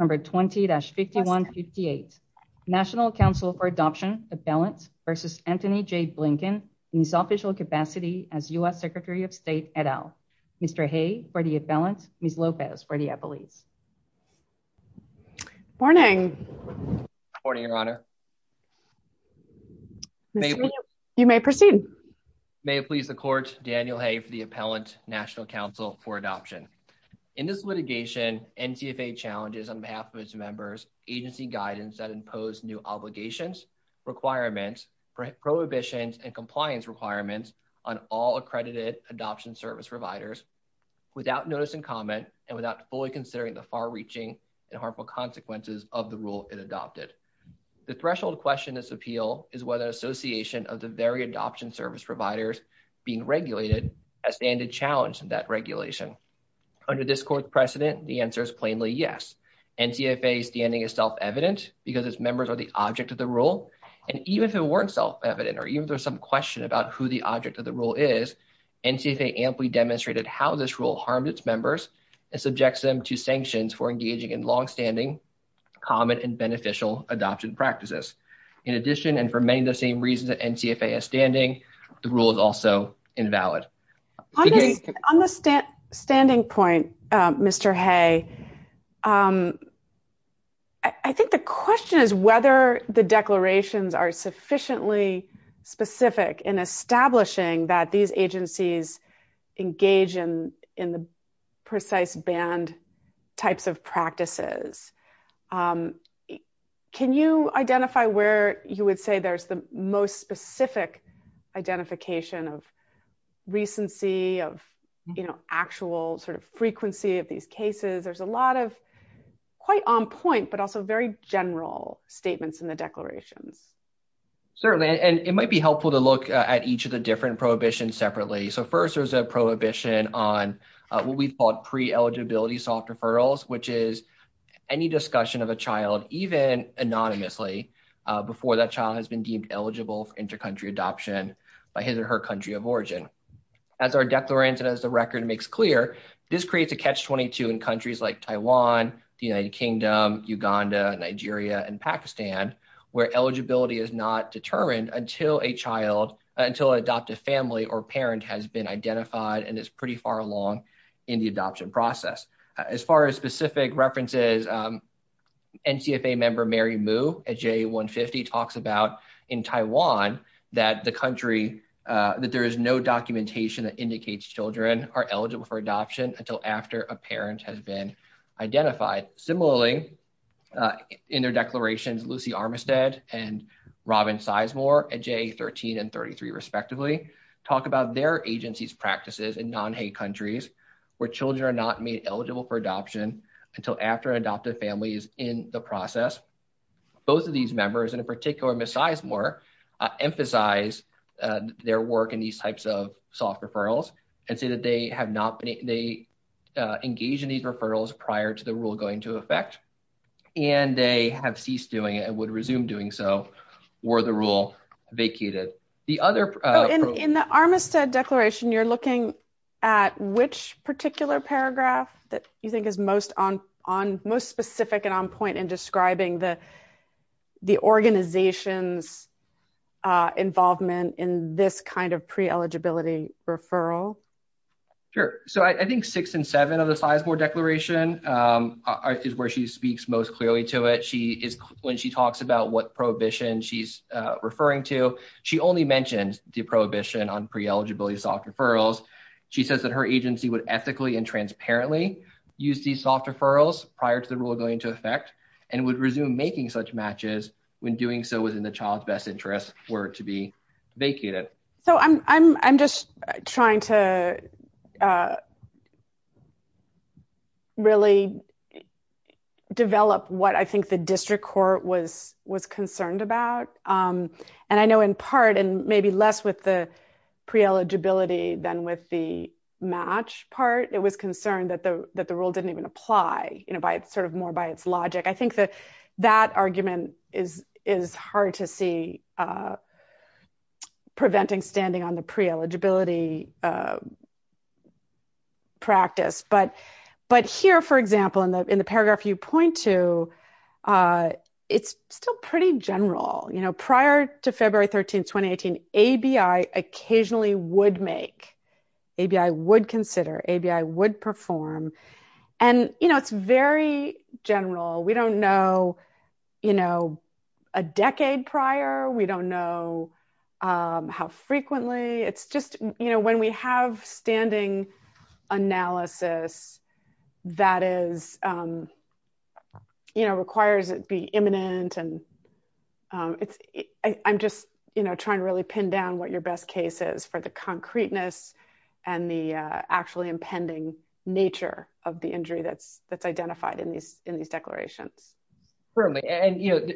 20-5158 National Council for Adoption, Appellant v. Antony J. Blinken, in his official capacity as U.S. Secretary of State et al., Mr. Hay for the appellant, Ms. Lopez for the appellate. Good morning. Good morning, Your Honor. You may proceed. May it please the Court, Daniel behalf of its members, agency guidance that imposed new obligations, requirements, prohibitions, and compliance requirements on all accredited adoption service providers, without notice and comment, and without fully considering the far-reaching and harmful consequences of the rule it adopted. The threshold question in this appeal is whether an association of the very adoption service providers being regulated, a standard challenge to that regulation. Under this Court's precedent, the answer is plainly yes. NCFA standing is self-evident because its members are the object of the rule, and even if it weren't self-evident, or even if there's some question about who the object of the rule is, NCFA amply demonstrated how this rule harmed its members and subjects them to sanctions for engaging in long-standing, common, and beneficial adoption practices. In addition, and for many of the same reasons that NCFA is standing, the rule is also invalid. On the standing point, Mr. Hay, I think the question is whether the declarations are sufficiently specific in establishing that these agencies engage in the precise banned types of practices. Can you identify where you would say there's the most specific identification of recency, of actual frequency of these cases? There's a lot of quite on point, but also very general statements in the declarations. Certainly, and it might be helpful to look at each of the different prohibitions separately. First, there's a prohibition on what we call pre-eligibility soft referrals, which is any eligible for inter-country adoption by his or her country of origin. As our declaration as a record makes clear, this creates a catch-22 in countries like Taiwan, the United Kingdom, Uganda, Nigeria, and Pakistan, where eligibility is not determined until a child, until an adoptive family or parent has been identified and is pretty far along in the adoption process. As far as specific references, NCFA member Mary Moo at JA 150 talks about in Taiwan that the country, that there is no documentation that indicates children are eligible for adoption until after a parent has been identified. Similarly, in their declarations, Lucy Armistead and Robin Sizemore at JA 13 and 33, respectively, talk about their agency's practices in non-Haiti where children are not made eligible for adoption until after an adoptive family is in the process. Both of these members, in particular Ms. Sizemore, emphasize their work in these types of soft referrals and say that they engage in these referrals prior to the rule going into effect and they have ceased doing it and would resume doing so were the rule vacated. The other- In the Armistead declaration, you're looking at which particular paragraph that you think is most specific and on point in describing the organization's involvement in this kind of pre-eligibility referral? Sure. I think six and seven of the Sizemore declaration is where she speaks most clearly to it. When she talks about what prohibition she's referring to, she only mentions the prohibition on pre-eligibility soft referrals. She says that her agency would ethically and transparently use these soft referrals prior to the rule going into effect and would resume making such matches when doing so was in the child's best interest for it to be vacated. I'm just trying to really develop what I think the district court was concerned about. I know in part, and maybe less with the pre-eligibility than with the match part, it was concerned that the rule didn't even apply more by its logic. I think that that argument is hard to see preventing standing on the pre-eligibility practice. But here, for example, in the paragraph you point to, it's still pretty general. Prior to February 13, 2018, ABI occasionally would make, ABI would consider, ABI would perform. It's very general. We don't know a decade prior. We don't know how frequently. When we have standing analysis that requires it be imminent, I'm just trying to really pin down what your best case is for the concreteness and the actually impending nature of the injury that's identified in these declarations. Certainly.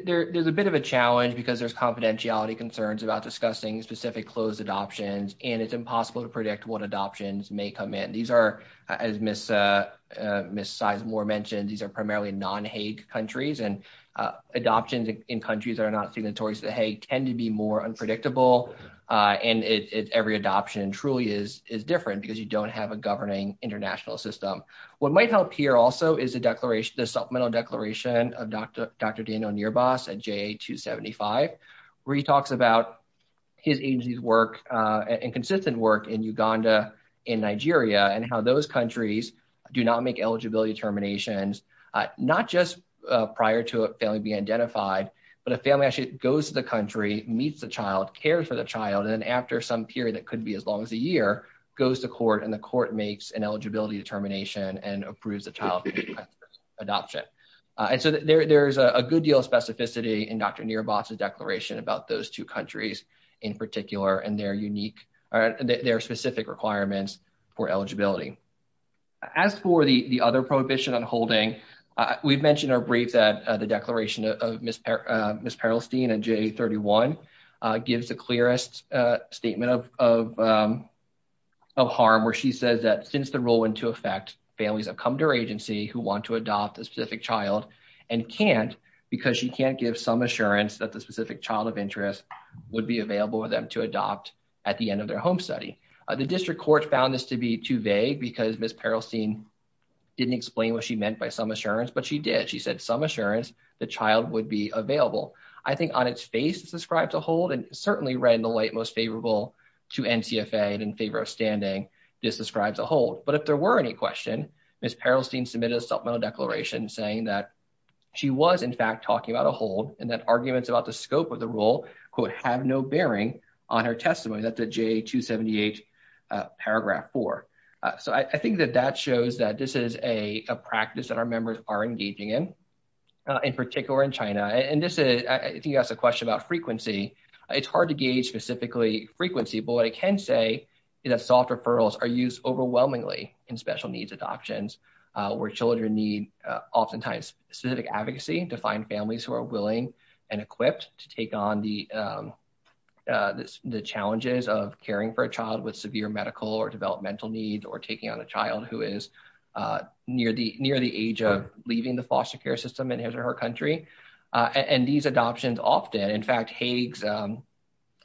There's a bit of a challenge because there's confidentiality concerns about discussing specific closed adoptions, and it's impossible to predict what adoptions may come in. As Ms. Sizemore mentioned, these are primarily non-HAIG countries, and adoptions in countries that are not signatories to the HAIG tend to be more unpredictable, and every adoption truly is different because you don't have a governing international system. What might help here also is the supplemental declaration of Dr. Daniel Nierbas at JA275, where he talks about his agency's work and consistent work in Uganda and Nigeria, and how those countries do not make eligibility determinations, not just prior to a family being identified, but a family actually goes to the country, meets the child, cares for the child, and then after some period that could be as long as a year, goes to court, and the court makes an approves the child's adoption. There's a good deal of specificity in Dr. Nierbas's declaration about those two countries in particular, and their unique, their specific requirements for eligibility. As for the other prohibition on holding, we've mentioned our brief that the declaration of Ms. Perelstein in JA31 gives the clearest statement of harm, where she says since the rule went into effect, families have come to her agency who want to adopt a specific child and can't because she can't give some assurance that the specific child of interest would be available for them to adopt at the end of their home study. The district court found this to be too vague because Ms. Perelstein didn't explain what she meant by some assurance, but she did. She said some assurance the child would be available. I think on its face it describes a hold, and certainly right in the light most favorable to NCFA and in favor of standing, this describes a hold. But if there were any question, Ms. Perelstein submitted a supplemental declaration saying that she was in fact talking about a hold, and that arguments about the scope of the rule, quote, have no bearing on her testimony that the JA278 paragraph 4. So I think that that shows that this is a practice that our members are engaging in, in particular in China. And this is, I think you asked a question about frequency. It's hard to gauge specifically frequency, but what I can say is that soft referrals are used overwhelmingly in special needs adoptions where children need oftentimes specific advocacy to find families who are willing and equipped to take on the challenges of caring for a child with severe medical or developmental needs or taking on a child who is near the age of leaving the foster care system in his or her country. And these adoptions often, in fact, Hague's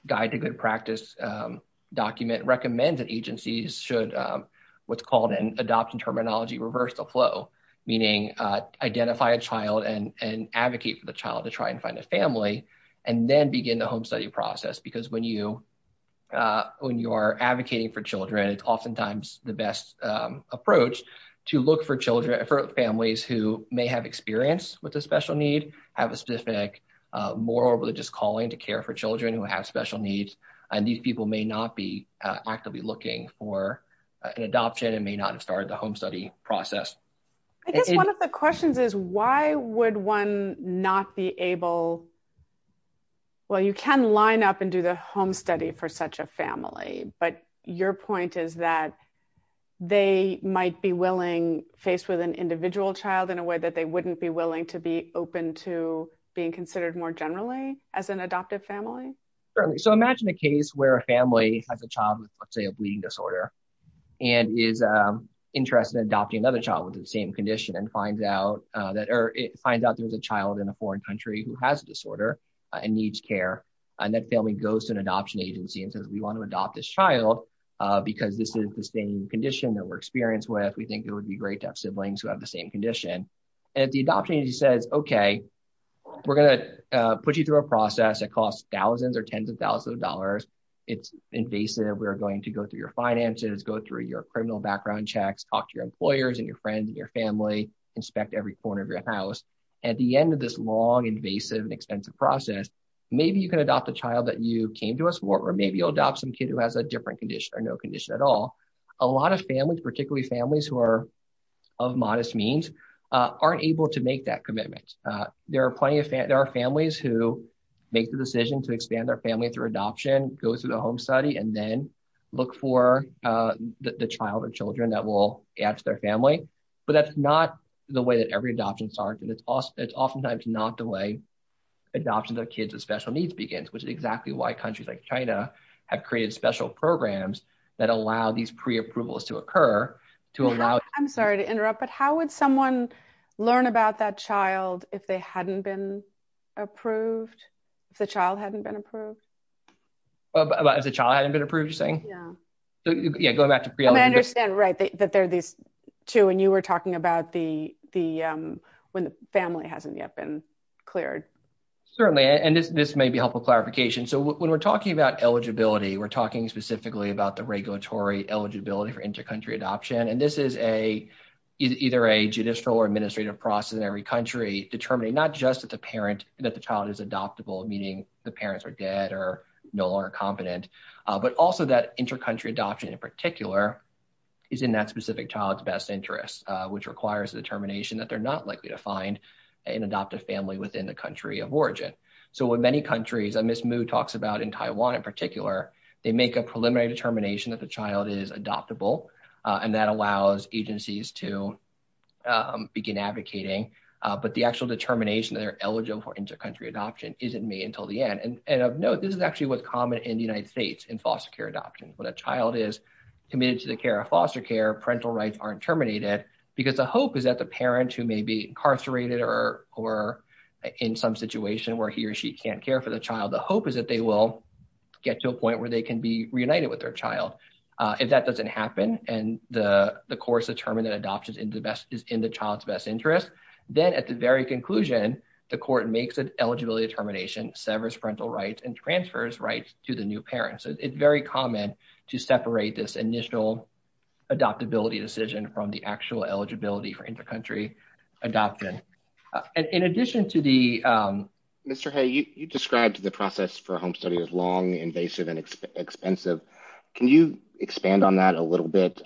Guide to Good Practice document recommends that agencies should, what's called an adoption terminology, reverse the flow, meaning identify a child and advocate for the child to try and find a family, and then begin the home study process. Because when you are advocating for children, it's oftentimes the best approach to look for children, for families who may have experience with a special need, have a specific moral or religious calling to care for children who have special needs, and these people may not be actively looking for an adoption and may not have started the home study process. I guess one of the questions is why would one not be able, well, you can line up and do the home study for such a family, but your point is that they might be willing, faced with an individual child in a way that they wouldn't be willing to be open to being considered more generally as an adoptive family? So imagine a case where a family has a child with, let's say, a bleeding disorder and is interested in adopting another child with the same condition and finds out that, or finds out there's a child in a foreign country who has a disorder and needs care, and that family goes to an adoption agency and says, we want to adopt this child because this is the same condition that we're experienced with. We think it would be great to have siblings who have the same condition. And the adoption agency says, okay, we're going to put you through a process that costs thousands or tens of thousands of dollars. It's invasive. We're going to go through your finances, go through your criminal background checks, talk to your employers and your friends and your family, inspect every corner of your house. At the end of this long, invasive, and expensive process, maybe you can adopt a child that you know has a different condition or no condition at all. A lot of families, particularly families who are of modest means, aren't able to make that commitment. There are families who make the decision to expand their family through adoption, go through the home study, and then look for the child or children that will add to their family. But that's not the way that every adoption starts, and it's oftentimes not the way adoption of kids with special needs begins, which is exactly why programs that allow these pre-approvals to occur. I'm sorry to interrupt, but how would someone learn about that child if they hadn't been approved? If the child hadn't been approved? If the child hadn't been approved, you're saying? Yeah. Yeah, going back to pre-eligibility. I understand, right, that there are these two, and you were talking about when the family hasn't yet been cleared. Certainly, and this may be helpful clarification. So when we're talking about eligibility, we're talking specifically about the regulatory eligibility for inter-country adoption, and this is either a judicial or administrative process in every country determining not just that the child is adoptable, meaning the parents are dead or no longer competent, but also that inter-country adoption in particular is in that specific child's best interest, which requires the determination that they're not likely to find an adoptive family within the country of origin. So in many countries, and Ms. Mu talks about in Taiwan in particular, they make a preliminary determination that the child is adoptable, and that allows agencies to begin advocating, but the actual determination that they're eligible for inter-country adoption isn't made until the end. And of note, this is actually what's common in the United States in foster care adoption. When a child is committed to the care of foster care, parental rights aren't terminated because the hope is that the parent who may be incarcerated or in some situation where he or she can't care for the child, the hope is that they will get to a point where they can be reunited with their child. If that doesn't happen and the court's determined that adoption is in the child's best interest, then at the very conclusion, the court makes an eligibility determination, severs parental rights, and transfers rights to the new parent. So it's very common to separate this initial adoptability decision from the actual eligibility for inter-country adoption. Mr. Hay, you described the process for home study as long, invasive, and expensive. Can you expand on that a little bit?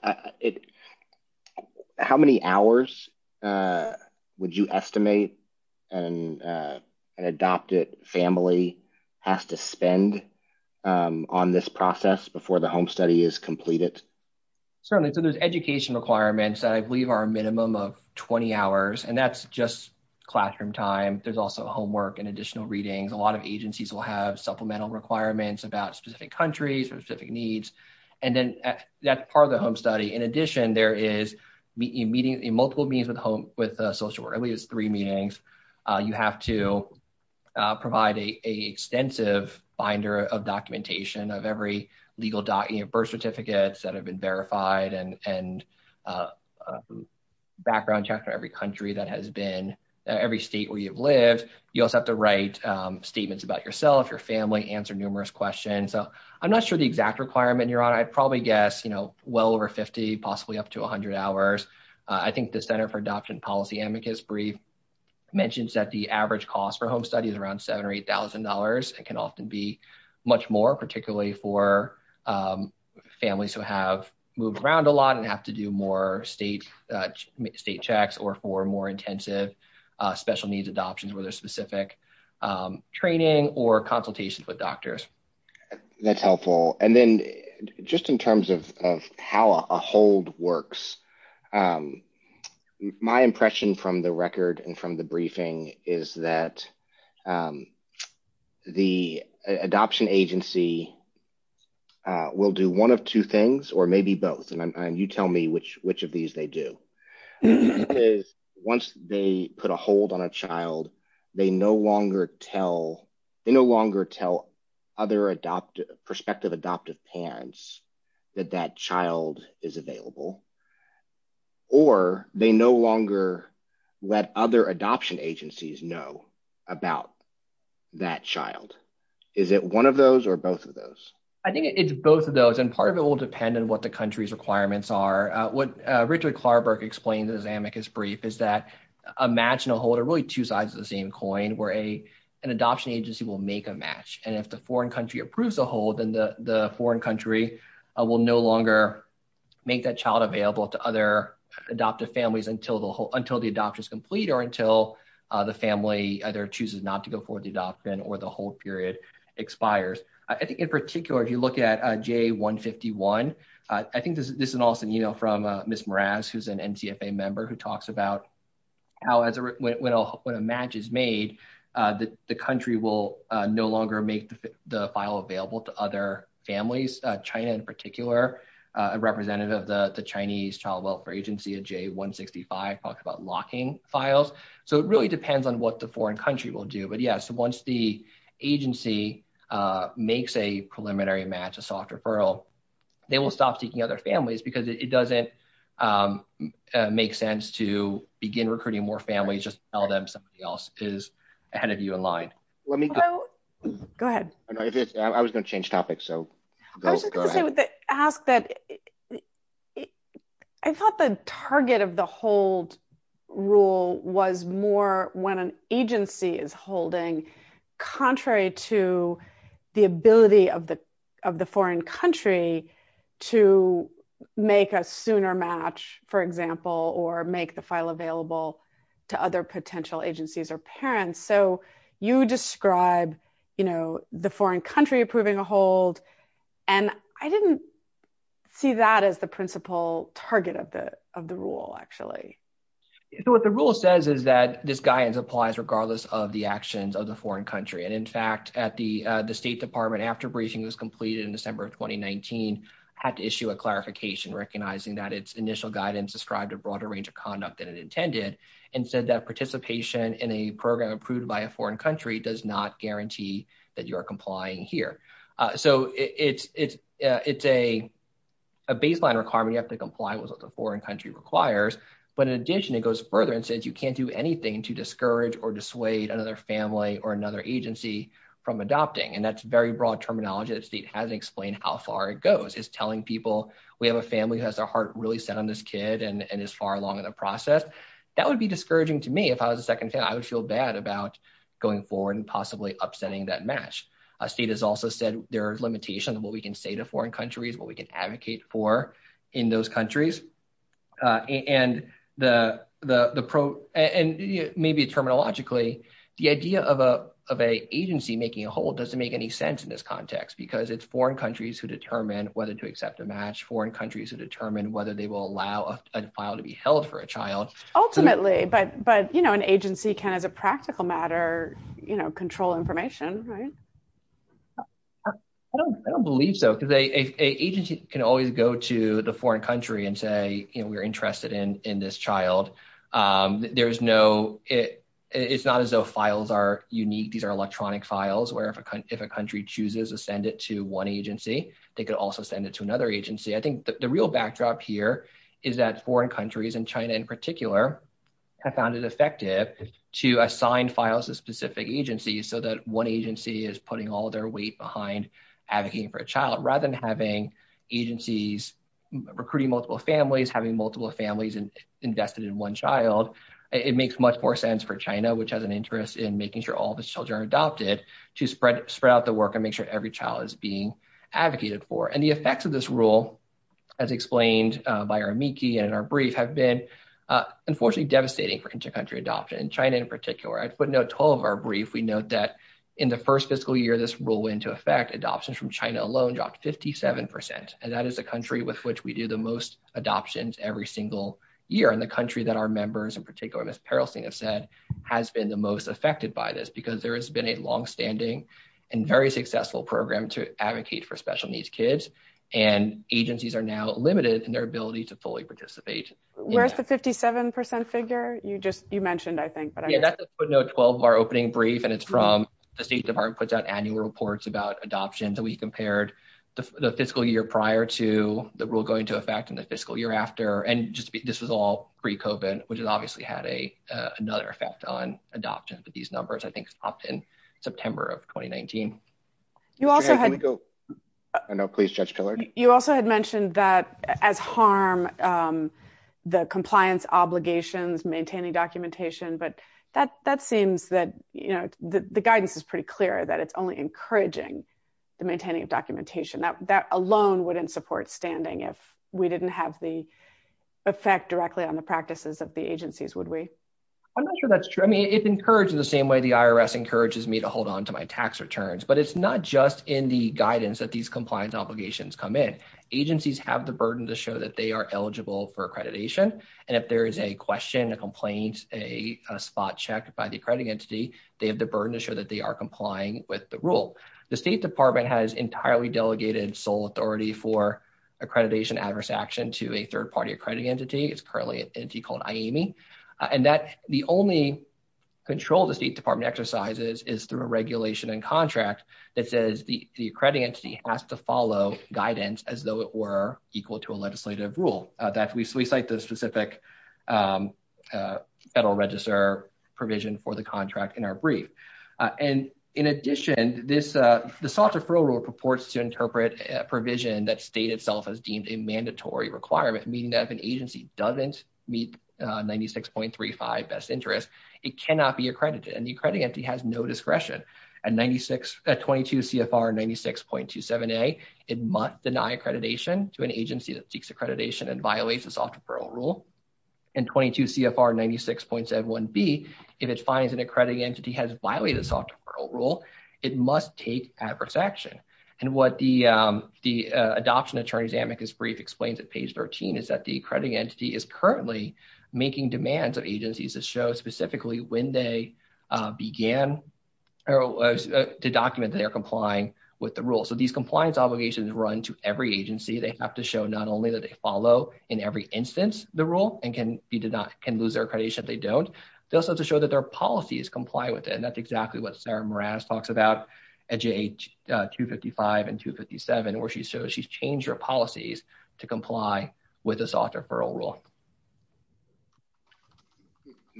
How many hours would you estimate an adopted family has to spend on this process before the home study is completed? Certainly. So there's education requirements that I believe are a minimum of 20 hours, and that's just classroom time. There's also homework and additional readings. A lot of agencies will have supplemental requirements about specific countries and specific needs, and then that's part of the home study. In addition, there is multiple meetings with social workers, at least three meetings. You have to provide an extensive binder of documentation of every legal birth certificates that have been verified and background check for every country that has been, every state where you've lived. You also have to write statements about yourself, your family, answer numerous questions. So I'm not sure the exact requirement you're on. I'd probably guess, you know, well over 50, possibly up to 100 hours. I think the Center for Adoption Policy Amicus brief mentions that the average cost for home study is around $7,000 or $8,000. It can often be much more, particularly for families who have moved around a lot and have to do more state checks or for more intensive special needs adoptions with a specific training or consultations with doctors. That's helpful. And then just in terms of how a hold works, my impression from the record and from the briefing is that the adoption agency will do one of two things or maybe both. And you tell me which of these they do. Once they put a hold on a child, they no longer tell other adoptive, prospective adoptive parents that that child is available. Or they no longer let other adoption agencies know about that child. Is it one of those or both of those? I think it's both of those. And part of it will depend on what the country's requirements are. What Richard Klarberg explained in his Amicus brief is that a match and a hold are really two sides of the same coin where an adoption agency will make a match. And if the foreign country approves a hold, then the foreign country will no longer make that child available to other adoptive families until the adoption is complete or until the family either chooses not to go for the adoption or the hold period expires. I think in particular, if you look at J151, I think this is an awesome email from Ms. Mraz, who's an NCFA member, who talks about how when a match is made, the country will no longer make the file available to other families, China in particular, a representative of the Chinese Child Welfare Agency in J165 talks about locking files. So it really depends on what the foreign country will do. But yes, once the agency makes a preliminary match, a soft referral, they will stop seeking other families because it doesn't make sense to begin recruiting more families, just tell them somebody is ahead of you in line. Go ahead. I was going to change topics. I thought the target of the hold rule was more when an agency is holding contrary to the ability of the foreign country to make a sooner match, for example, or make the file parents. So you described the foreign country approving a hold. And I didn't see that as the principal target of the rule, actually. So what the rule says is that this guidance applies regardless of the actions of the foreign country. And in fact, at the State Department after bracing was completed in December of 2019, had to issue a clarification recognizing that its initial guidance described a broader range of conduct than it intended and said that participation in a program approved by a foreign country does not guarantee that you are complying here. So it's a baseline requirement. You have to comply with what the foreign country requires. But in addition, it goes further and says you can't do anything to discourage or dissuade another family or another agency from adopting. And that's very broad terminology. The state hasn't explained how far it goes. It's telling people we have a family who has their heart really set on this far along in the process. That would be discouraging to me if I was a second family. I would feel bad about going forward and possibly upsetting that match. A state has also said there are limitations of what we can say to foreign countries, what we can advocate for in those countries. And maybe terminologically, the idea of an agency making a hold doesn't make any sense in this context because it's foreign countries who determine whether to hold for a child. Ultimately, but an agency can, as a practical matter, control information, right? I don't believe so because an agency can always go to the foreign country and say, we're interested in this child. It's not as though files are unique. These are electronic files where if a country chooses to send it to one agency, they could also send it to another country. And China, in particular, has found it effective to assign files to specific agencies so that one agency is putting all their weight behind advocating for a child. Rather than having agencies recruiting multiple families, having multiple families invested in one child, it makes much more sense for China, which has an interest in making sure all the children are adopted, to spread out the work and make sure every child is being advocated for. And the effects of this rule, as explained by our MIKI and our brief, have been unfortunately devastating for inter-country adoption. In China, in particular, I put note to all of our briefs. We note that in the first fiscal year, this rule went into effect. Adoption from China alone dropped 57%. And that is the country with which we do the most adoptions every single year. And the country that our members, in particular, Ms. Perlsting, have said has been the most affected by this because there has been a longstanding and very successful program to advocate for special needs kids. And agencies are now limited in their ability to fully participate. Where's the 57% figure you mentioned, I think? Yeah, that's the footnote 12 of our opening brief. And it's from the State Department. It puts out annual reports about adoptions. And we compared the fiscal year prior to the rule going into effect and the fiscal year after. And this was all pre-COVID, which has obviously had another effect on adoptions. But these numbers, I think, stopped in September of 2019. I know, please, Judge Killard. You also had mentioned that as harm, the compliance obligations, maintaining documentation, but that seems that the guidance is pretty clear that it's only encouraging the maintaining of documentation. That alone wouldn't support standing if we didn't have the effect directly on the practices of the agencies, would we? I'm not sure that's true. I mean, it encourages the same way the IRS encourages me to hold on to my tax returns. But it's not just in the guidance that these compliance obligations come in. Agencies have the burden to show that they are eligible for accreditation. And if there is a question, a complaint, a spot check by the accrediting entity, they have the burden to show that they are complying with the rule. The State Department has entirely delegated sole authority for accreditation adverse action to a the only control the State Department exercises is through a regulation and contract that says the accrediting entity has to follow guidance as though it were equal to a legislative rule. That we cite the specific Federal Register provision for the contract in our brief. And in addition, the software parole rule purports to interpret a provision that state itself has a mandatory requirement, meaning that if an agency doesn't meet 96.35 best interest, it cannot be accredited. And the accrediting entity has no discretion. At 22 CFR 96.27a, it must deny accreditation to an agency that seeks accreditation and violates the software parole rule. And 22 CFR 96.71b, if it finds an accrediting entity has violated software parole rule, it must take adverse action. And what the Adoption Attorney's Amicus brief explains at page 13 is that the accrediting entity is currently making demands of agencies to show specifically when they began or to document that they are complying with the rule. So these compliance obligations run to every agency. They have to show not only that they follow in every instance the rule and can lose their accreditation if they don't. They also have to show that their policies comply with it. And that's exactly what Sarah Moranis talks about at page 255 and 257, where she shows she's changed her policies to comply with the software parole rule.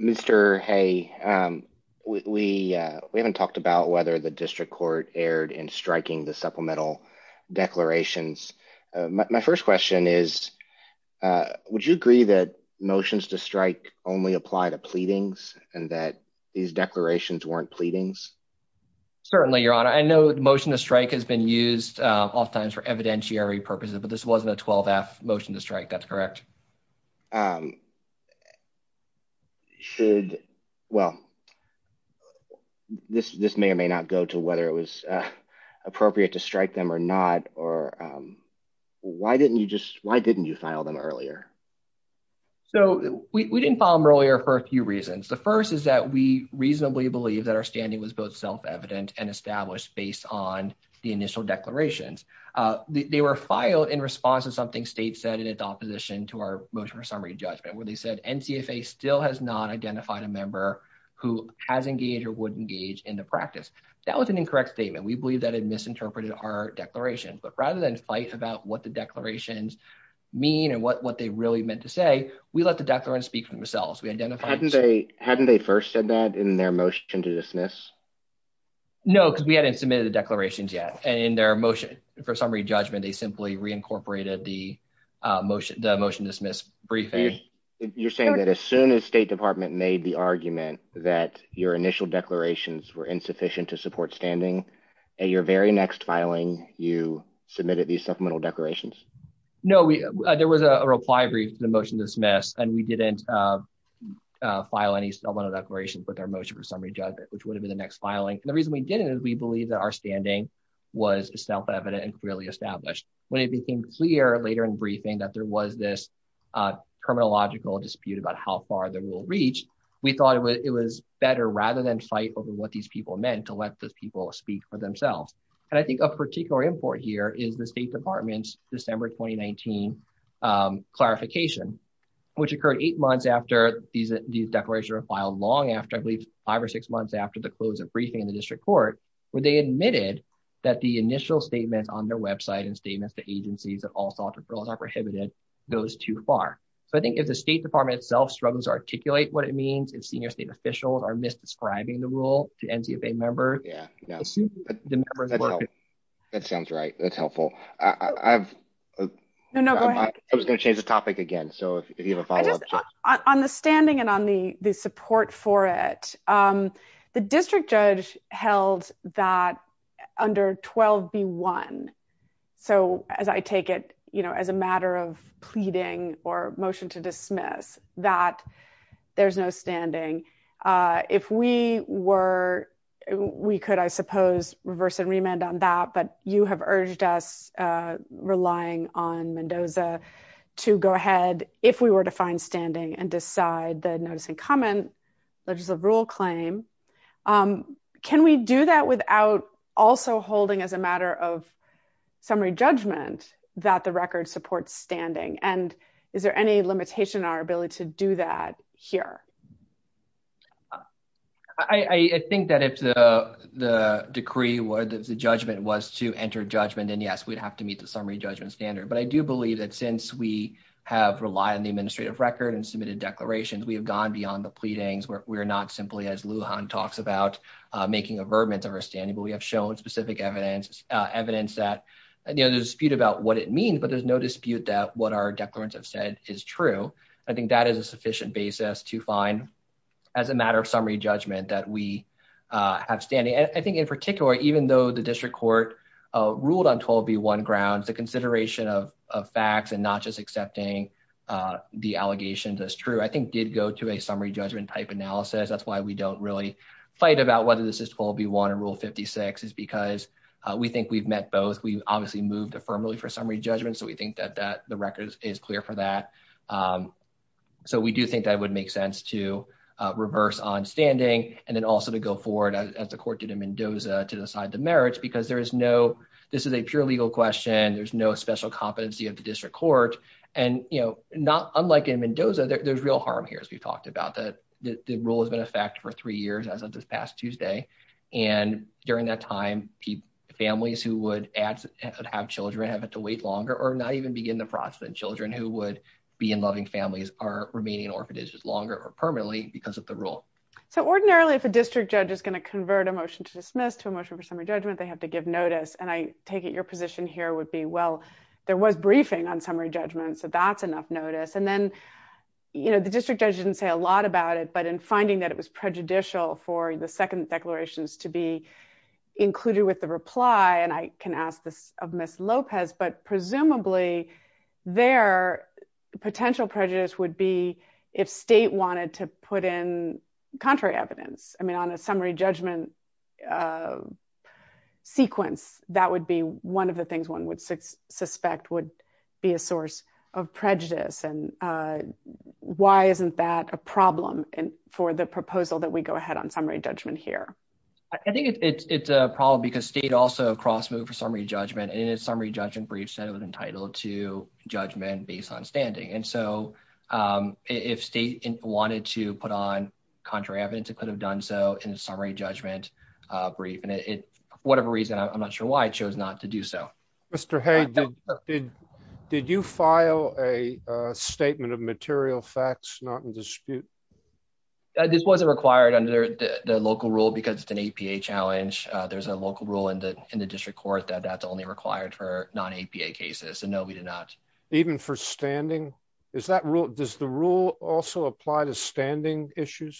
Mr. Hay, we haven't talked about whether the district court erred in striking the supplemental declarations. My first question is, would you agree that motions to strike only apply to pleadings and that these declarations weren't pleadings? Certainly, Your Honor. I know motion to strike has been used oftentimes for evidentiary purposes, but this wasn't a 12-F motion to strike. That's correct. Should, well, this may or may not go to whether it was appropriate to strike them or not. Or why didn't you just, why didn't you file them earlier? So we didn't file them earlier for a few reasons. The first is that we reasonably believe that our standing was both self-evident and established based on the initial declarations. They were filed in response to something the state said in its opposition to our motion for summary judgment, where they said NCSA still has not identified a member who has engaged or would engage in the practice. That was an incorrect statement. We believe that it misinterpreted our declaration. But rather than fight about what the declarations mean and what they really meant to say, we let the declarants speak for themselves. We identified- Hadn't they first said that in their motion to dismiss? No, because we hadn't submitted the declarations yet. And in their motion for summary judgment, they simply reincorporated the motion to dismiss briefly. You're saying that as soon as State Department made the argument that your initial declarations were insufficient to support standing, at your very next filing, you submitted these supplemental declarations? No, there was a reply brief to the motion to dismiss, and we didn't file any supplemental declarations with our motion for summary judgment, which would have been the next filing. The reason we didn't is we believe that our standing was self-evident and clearly established. When it became clear later in briefing that there was this criminological dispute about how far the rule reached, we thought it was better, rather than fight over what these people meant, to let those people speak for themselves. And I think of particular import here is the State Department's December 2019 clarification, which occurred eight months after these declarations were filed, long after, I believe, five or six months after the close of briefing in the district court, where they admitted that the initial statement on their website and statements to agencies that all sorts of rules are prohibited goes too far. So I think if the State Department itself articulate what it means, and senior state officials are mis-describing the rule to NTSA members, it seems to be the members- That sounds right. That's helpful. I was going to change the topic again, so if you have a follow-up. On the standing and on the support for it, the district judge held that under 12B1, so as I take it, as a matter of pleading or motion to there's no standing, if we were, we could, I suppose, reverse and remand on that, but you have urged us, relying on Mendoza, to go ahead, if we were to find standing and decide the noticing comment, which is a rule claim, can we do that without also holding as a matter of summary judgment that the record supports standing, and is there any limitation on our ability to do that here? I think that if the decree was, the judgment was to enter judgment, then yes, we'd have to meet the summary judgment standard, but I do believe that since we have relied on the administrative record and submitted declarations, we have gone beyond the pleadings. We're not simply, as Lujan talks about, making avertments over standing, but we have no dispute about what it means, but there's no dispute that what our declarants have said is true. I think that is a sufficient basis to find, as a matter of summary judgment, that we have standing. I think, in particular, even though the district court ruled on 12B1 grounds, the consideration of facts and not just accepting the allegations as true, I think, did go to a summary judgment type analysis. That's why we don't really fight about whether this is 12B1 Rule 56, is because we think we've met both. We obviously moved affirmatively for summary judgment, so we think that the record is clear for that. We do think that would make sense to reverse on standing, and then also to go forward, as the court did in Mendoza, to decide the merits, because this is a pure legal question. There's no special competency of the district court, and unlike in Mendoza, there's real harm here, as we've talked about. The rule has been in effect for three years, as of this past Tuesday, and during that time, families who would have children have to wait longer or not even begin the process. Children who would be in loving families are remaining, or if it is, longer or permanently because of the rule. So, ordinarily, if a district judge is going to convert a motion to dismiss to a motion for summary judgment, they have to give notice, and I take it your position here would be, well, there was briefing on summary judgment, so that's enough notice, and then, you know, the district judge didn't say a lot about it, but in finding that it was prejudicial for the second declarations to be included with the reply, and I can ask this of Ms. Lopez, but presumably, their potential prejudice would be if state wanted to put in contrary evidence. I mean, on a summary judgment sequence, that would be one of the things one would suspect would be a source of prejudice, and why isn't that a problem for the proposal that we go ahead on summary judgment here? I think it's a problem because state also cross-moved for summary judgment, and a summary judgment brief said it was entitled to judgment based on standing, and so if state wanted to put on contrary evidence, it could have done so in a summary judgment brief, and whatever reason, I'm not sure why, it chose not to do so. Mr. Hayes, did you file a statement of material facts not in dispute? This wasn't required under the local rule because it's an APA challenge. There's a local rule in the district court that that's only required for non-APA cases, and no, we did not. Even for standing? Does the rule also apply to standing issues?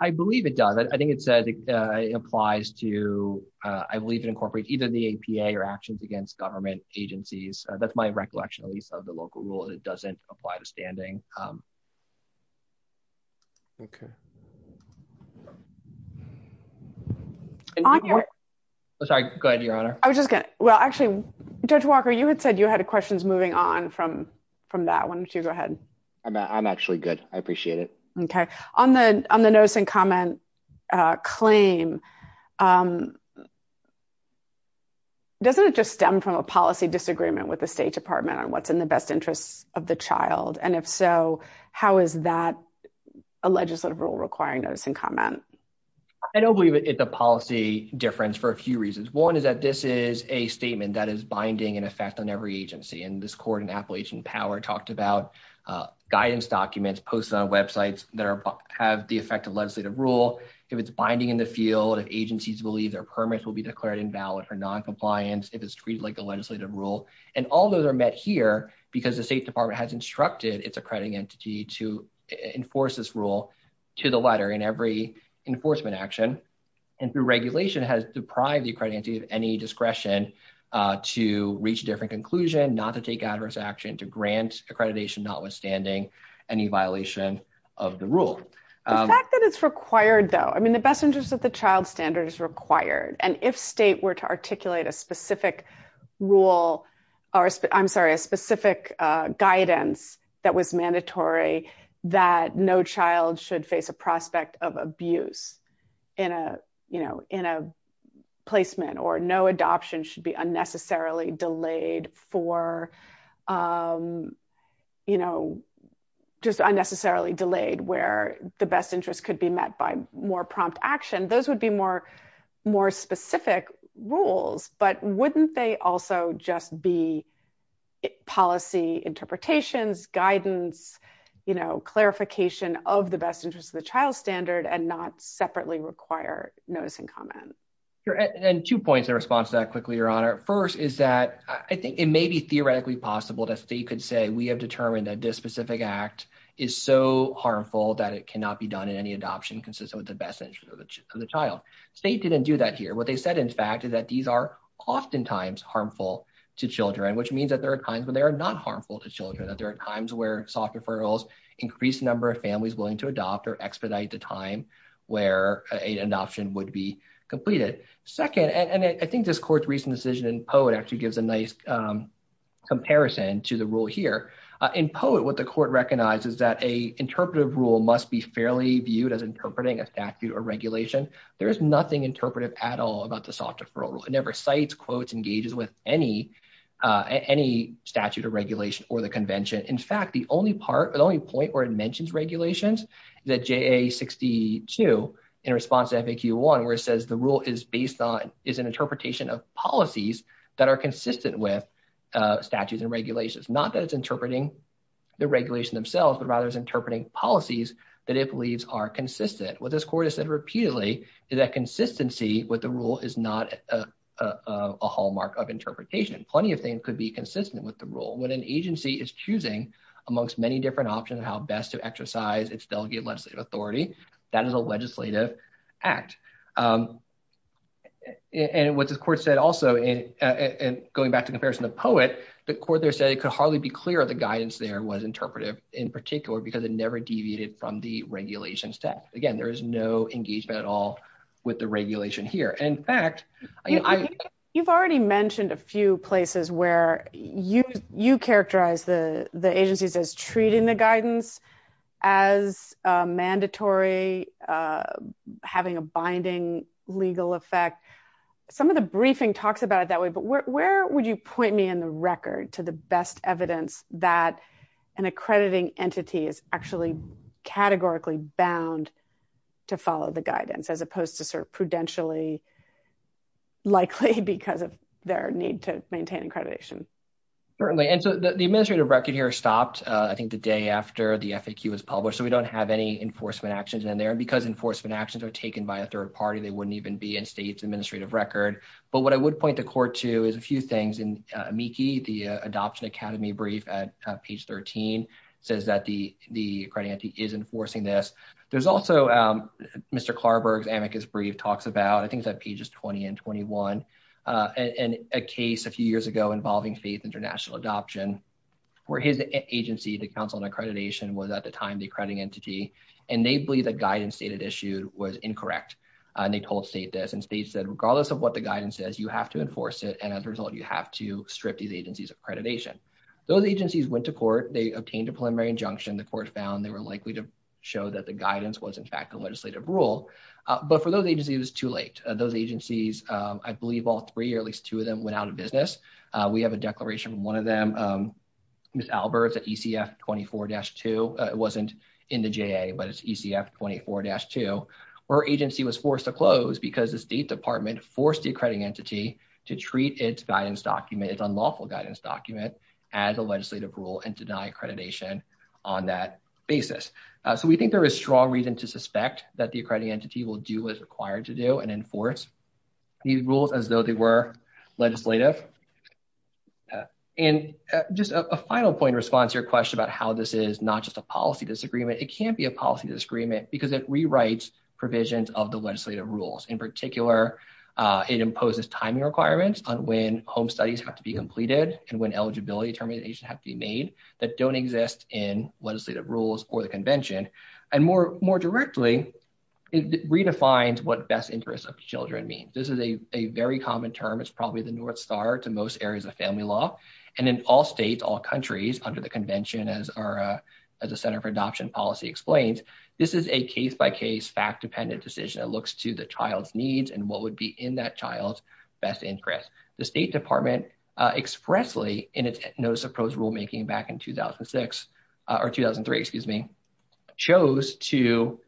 I believe it does. I think it said it applies to, I believe it incorporates either the APA or actions against government agencies. That's my recollection, at least, of the local rule. It doesn't apply to standing. Okay. I'm sorry. Go ahead, Your Honor. I was just going to, well, actually, Judge Walker, you had said you had questions moving on from that. Why don't you go ahead? I'm actually good. I appreciate it. Okay. On the notice and comment claim, doesn't it just stem from a policy disagreement with the State Department on what's in the best interest of the child? If so, how is that a legislative rule requiring notice and comment? I don't believe it's a policy difference for a few reasons. One is that this is a statement that is guidance documents posted on websites that have the effect of legislative rule. If it's binding in the field, if agencies believe their permits will be declared invalid for non-compliance, if it's treated like a legislative rule. All those are met here because the State Department has instructed its accrediting entity to enforce this rule to the letter in every enforcement action. The regulation has deprived the accrediting entity of any discretion to reach a different any violation of the rule. The fact that it's required though, I mean, the best interest of the child standard is required. If State were to articulate a specific guidance that was mandatory that no child should face a prospect of abuse in a placement or no just unnecessarily delayed where the best interest could be met by more prompt action, those would be more specific rules. But wouldn't they also just be policy interpretations, guidance, clarification of the best interest of the child standard and not separately require notice and comment? Two points in response to that quickly, Your Honor. First is that it may be theoretically possible that State could say we have determined that this specific act is so harmful that it cannot be done in any adoption consistent with the best interest of the child. State didn't do that here. What they said in fact is that these are oftentimes harmful to children, which means that there are times when they are not harmful to children, that there are times where soft referrals increase the number of families willing to adopt or expedite the time where an option would be completed. Second, and I think this court's recent decision in comparison to the rule here, in poet what the court recognizes that an interpretive rule must be fairly viewed as interpreting a statute or regulation. There is nothing interpretive at all about the soft referral. It never cites, quotes, engages with any statute or regulation or the convention. In fact, the only part, the only point where it mentions regulations, the JA62 in response to FAQ1 where it says the rule is based on, is an interpretation of policies that are consistent with statutes and regulations. Not that it's interpreting the regulation themselves, but rather it's interpreting policies that it believes are consistent. What this court has said repeatedly is that consistency with the rule is not a hallmark of interpretation. Plenty of things could be consistent with the rule. When an agency is choosing amongst many different options how best to exercise its delegated legislative authority, that is a legislative act. What the court said also, and going back to the comparison of poet, the court there said it could hardly be clear if the guidance there was interpretive in particular because it never deviated from the regulations. Again, there is no engagement at all with the regulation here. In fact- You've already mentioned a few places where you characterize the agency as treating the guidance as mandatory, having a binding legal effect. Some of the briefing talks about it that way, but where would you point me in the record to the best evidence that an accrediting entity is actually categorically bound to follow the guidance as opposed to prudentially likely because of their need to maintain accreditation? Certainly. The administrative record here stopped, I think, the day after the FAQ was published, so we don't have any enforcement actions in there. Because enforcement actions are taken by a third party, they wouldn't even be in state's administrative record. What I would point the court to is a few things. In MIECHE, the Adoption Academy brief at page 13, says that the accrediting entity is enforcing this. There's also Mr. Klarberg's amicus brief talks about, I think it's at pages 20 and 21, a case a few years ago involving state's international adoption, where his agency, the Council on Accreditation, was at the time the accrediting entity, and they believe the guidance stated issue was incorrect. They told the state this, and states said, regardless of what the guidance says, you have to enforce it, and as a result, you have to strip these agencies of accreditation. Those agencies went to court. They obtained a preliminary injunction. The court found they were likely to show that the guidance was, in fact, a legislative rule, but for those agencies, it was too late. Those agencies, I believe all three, or at least two of them, went out of business. We have a declaration from one of them, Ms. Alberts at ECF 24-2. It wasn't in the JA, but it's ECF 24-2. Her agency was forced to close because the state department forced the accrediting entity to treat its guidance document, its unlawful guidance document, as a legislative rule and deny accreditation on that basis. So we think there is strong reason to suspect that the accrediting entity will do what it's required to do and enforce these rules as though they were legislative. And just a final point in response to your question about how this is not just a policy disagreement. It can't be a policy disagreement because it rewrites provisions of the legislative rules. In particular, it imposes timing requirements on when home studies have to be completed and when eligibility determinations have to be made that don't exist in legislative rules or the convention. And more directly, it redefines what best interest of children means. This is a very common term. It's probably the North Star to most areas of family law. And in all states, all countries, under the convention, as the Center for Adoption Policy explained, this is a case-by-case, fact-dependent decision that looks to the child's needs and what would be in that child's best rulemaking back in 2006, or 2003, excuse me, chose to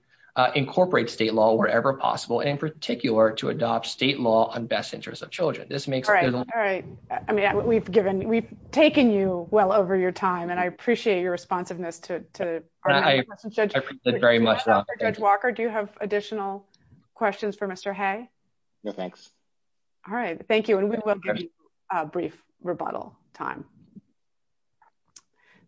incorporate state law wherever possible, in particular, to adopt state law on best interest of children. This makes... All right. All right. I mean, we've given, we've taken you well over your time, and I appreciate your responsiveness to... I appreciate it very much. Judge Walker, do you have additional questions for Mr. Hay? No, thanks. All right. Thank you. We will give you a brief rebuttal time.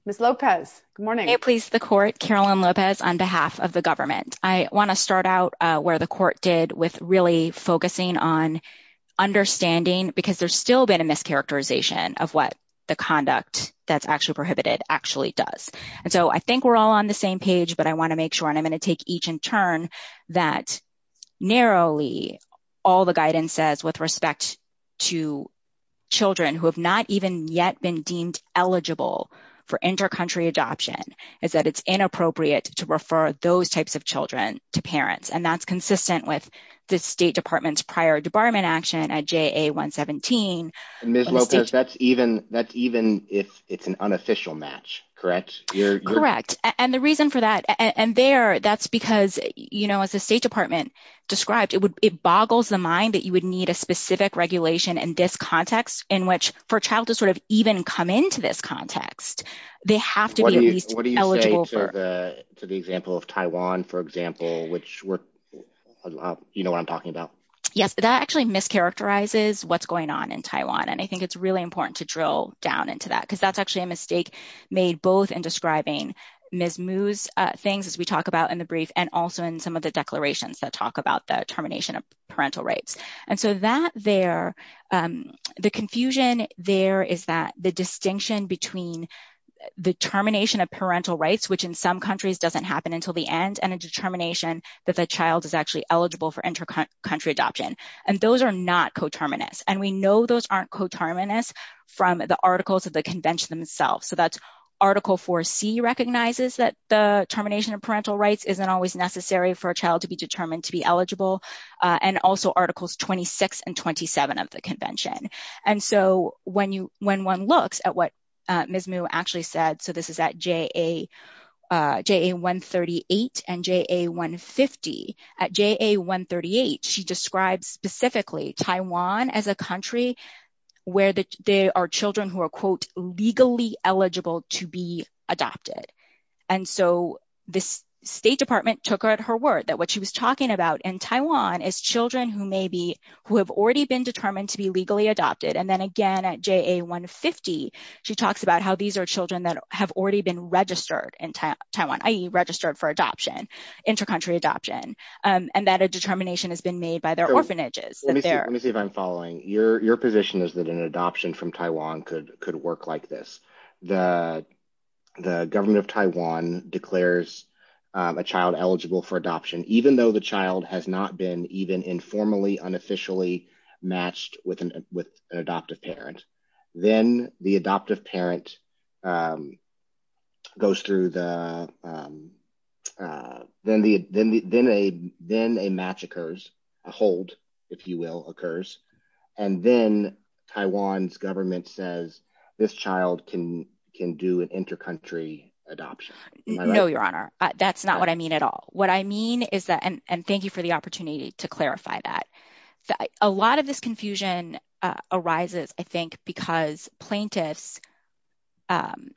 Ms. Lopez, good morning. I please the court, Carolyn Lopez, on behalf of the government. I want to start out where the court did with really focusing on understanding, because there's still been a mischaracterization of what the conduct that's actually prohibited actually does. And so I think we're all on the same page, but I want to make sure, and I'm going to take each in turn, that narrowly, all the guidance says with respect to children who have not even yet been deemed eligible for inter-country adoption, is that it's inappropriate to refer those types of children to parents. And that's consistent with the State Department's prior debarment action at JA-117. Ms. Lopez, that's even if it's an unofficial match, correct? Correct. And the reason for that, and there, that's because, as the State Department described, it boggles the mind that you would need a specific regulation in this context, in which for a child to sort of even come into this context, they have to be at least eligible. What do you say to the example of Taiwan, for example, which you know what I'm talking about? Yes, that actually mischaracterizes what's going on in Taiwan. And I think it's really important to drill down into that, because that's actually a mistake made both in describing Ms. Lopez and in talking about the termination of parental rights. And so that there, the confusion there is that the distinction between the termination of parental rights, which in some countries doesn't happen until the end, and a determination that the child is actually eligible for inter-country adoption. And those are not coterminous. And we know those aren't coterminous from the articles of the convention themselves. So that's Article 4C recognizes that the termination of parental rights isn't always necessary for a child to be determined to be eligible, and also Articles 26 and 27 of the convention. And so when one looks at what Ms. Mu actually said, so this is at JA-138 and JA-150. At JA-138, she describes specifically Taiwan as a country where there are children who are, quote, legally eligible to be Taiwan as children who may be, who have already been determined to be legally adopted. And then again at JA-150, she talks about how these are children that have already been registered in Taiwan, i.e. registered for adoption, inter-country adoption, and that a determination has been made by their orphanages. Let me see if I'm following. Your position is that an adoption from Taiwan could work like this. The government of Taiwan declares a child eligible for adoption, even though the child has not been even informally, unofficially matched with an adoptive parent. Then the adoptive parent goes through the, then a match occurs, a hold, if you will, occurs, and then Taiwan's government says this child can do an inter-country adoption. No, Your Honor, that's not what I mean at all. What I mean is that, and thank you for the opportunity to clarify that, a lot of this confusion arises, I think, because plaintiffs, and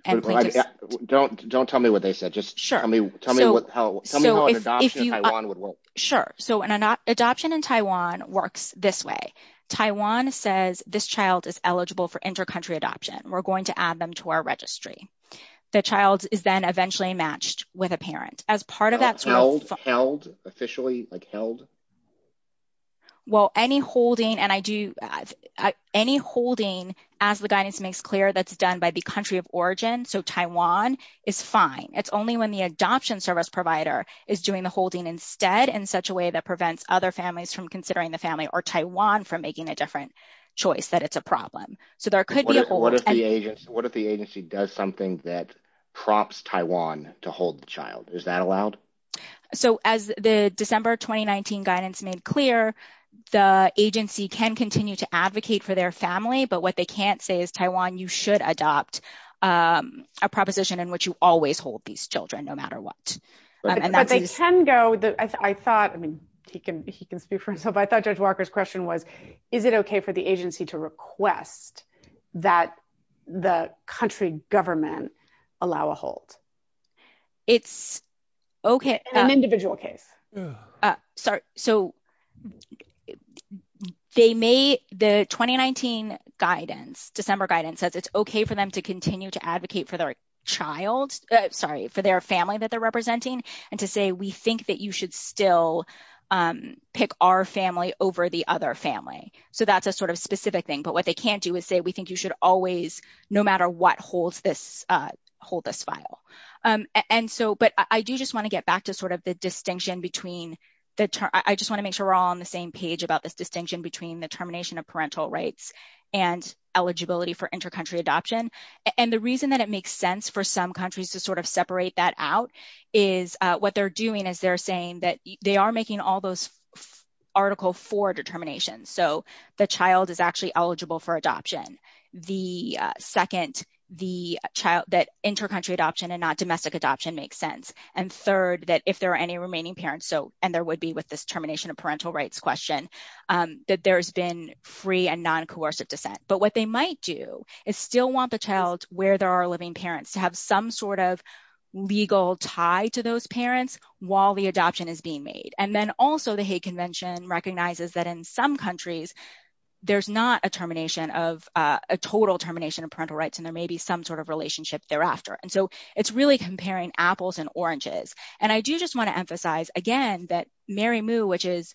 don't tell me what they said, just tell me what, how, tell me how an adoption in Taiwan would work. Sure, so an adoption in Taiwan works this way. Taiwan says this child is eligible for inter-country adoption. We're going to add them to our registry. The child is then eventually matched with a parent. As part of that... Held? Officially, like held? Well, any holding, and I do, any holding, as the guidance makes clear, that's done by the country of origin, so Taiwan, is fine. It's only when the adoption service provider is doing the holding instead in such a way that prevents other families from considering the family or Taiwan from making a different choice that it's a problem. So there could be... What if the agency does something that prompts Taiwan to hold the child? Is that allowed? So as the December 2019 guidance made clear, the agency can continue to advocate for their family, but what they can't say is, Taiwan, you should adopt a proposition in which you always hold these children no matter what. But they can go, I thought, I mean, he can speak for himself, I thought Judge Walker's question was, is it okay for the agency to request that the country government allow a hold? It's okay... In an individual case. Sorry. So the 2019 guidance, December guidance, says it's okay for them to continue to advocate for their child, sorry, for their family that they're representing, and to say, we think that you should still pick our family over the other family. So that's a specific thing, but what they can't do is say, we think you should always, no matter what, hold this file. But I do just want to get back to the distinction between... I just want to make sure we're all on the same page about this distinction between the termination of parental rights and eligibility for inter-country adoption. And the reason that it makes sense for some countries to separate that out is what they're saying that they are making all those Article 4 determinations. So the child is actually eligible for adoption. Second, that inter-country adoption and not domestic adoption makes sense. And third, that if there are any remaining parents, and there would be with this termination of parental rights question, that there's been free and non-coercive dissent. But what they might do is still want the child where there are living parents to have some sort of legal tie to those parents while the adoption is being made. And then also the hate convention recognizes that in some countries, there's not a total termination of parental rights, and there may be some sort of relationship thereafter. And so it's really comparing apples and oranges. And I do just want to emphasize again that Mary Moo, which is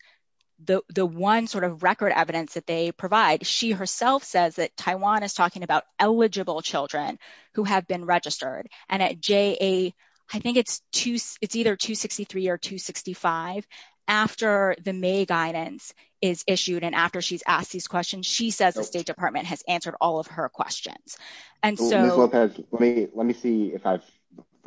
the one sort of record evidence that they provide, she herself says that Taiwan is talking about eligible children who have been registered. And at JA, I think it's either 263 or 265. After the May guidance is issued, and after she's asked these questions, she says the State Department has answered all of her questions. And so- Let me see if I've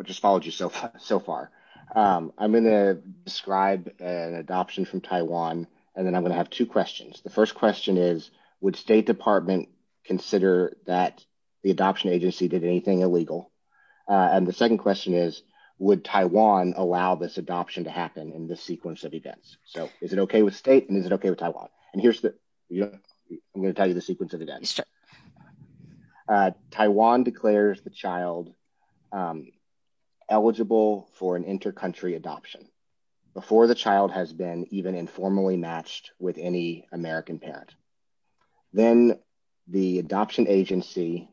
just followed you so far. I'm going to describe an adoption from Taiwan, and then I'm going to have two questions. The first question is, would State Department consider that the adoption agency did anything illegal? And the second question is, would Taiwan allow this adoption to happen in this sequence of events? So is it okay with State, and is it okay with Taiwan? And here's the- I'm going to tell you the sequence of events. Taiwan declares the child eligible for an inter-country adoption before the child has been even informally matched with any American parent. Then the adoption agency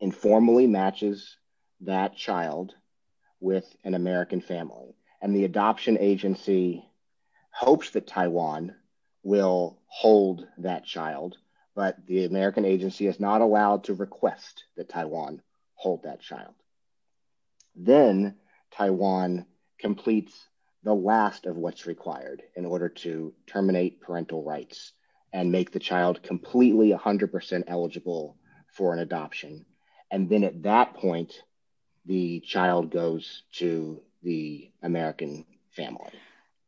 informally matches that child with an American family. And the adoption agency hopes that Taiwan will hold that child, but the American agency is not allowed to request that Taiwan hold that child. Then Taiwan completes the last of what's required in order to terminate parental rights and make the child completely 100% eligible for an adoption. And then at that point, the child goes to the American family.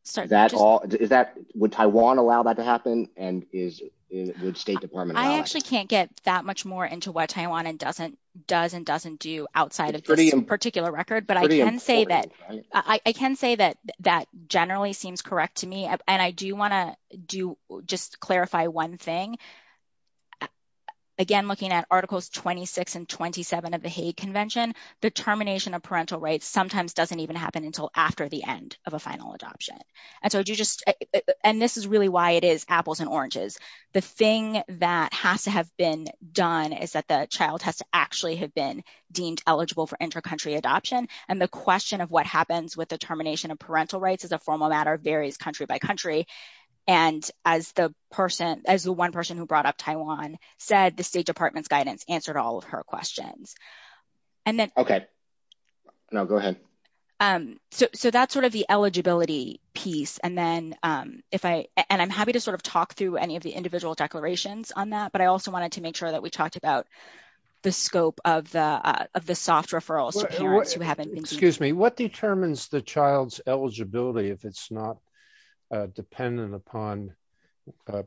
Is that- Would Taiwan allow that to happen? And would State Department allow it? I actually can't get that much more into what Taiwan does and doesn't do outside of this particular record, but I can say that generally seems correct to me. And I do want to just clarify one thing. Again, looking at Articles 26 and 27 of the Hague Convention, the termination of parental rights sometimes doesn't even happen until after the end of a final adoption. And this is really why it is done is that the child has to actually have been deemed eligible for intracountry adoption. And the question of what happens with the termination of parental rights is a formal matter of various country by country. And as the one person who brought up Taiwan said, the State Department's guidance answered all of her questions. And then- Okay. No, go ahead. So that's sort of the eligibility piece. And I'm happy to sort of talk through any of the that we talked about, the scope of the soft referral to parents who haven't been- Excuse me. What determines the child's eligibility if it's not dependent upon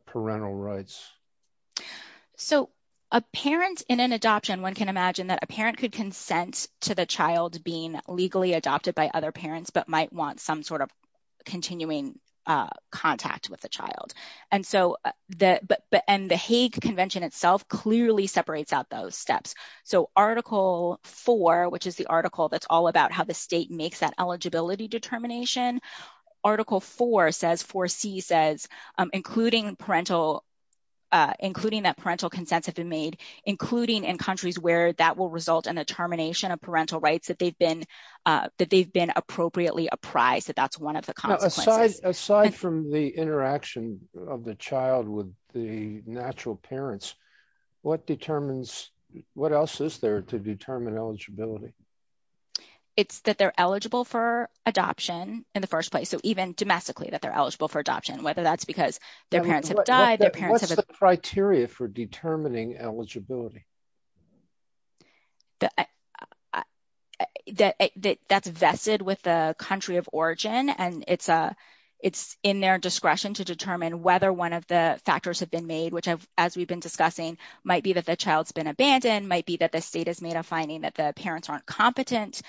parental rights? So a parent in an adoption, one can imagine that a parent could consent to the child being legally adopted by other parents, but might want some sort of continuing contact with the child. And the Hague Convention itself clearly separates out those steps. So Article 4, which is the article that's all about how the state makes that eligibility determination, Article 4 says, 4C says, including that parental consent has been made, including in countries where that will result in a termination of parental rights that they've been appropriately apprised that that's one of the consequences. Aside from the interaction of the child with the natural parents, what determines, what else is there to determine eligibility? It's that they're eligible for adoption in the first place. So even domestically, that they're eligible for adoption, whether that's because their parents have died, their parents have- What's the criteria for determining eligibility? That that's vested with the country of origin, and it's in their discretion to determine whether one of the factors have been made, which as we've been discussing, might be that the child's been abandoned, might be that the state has made a finding that the parents aren't competent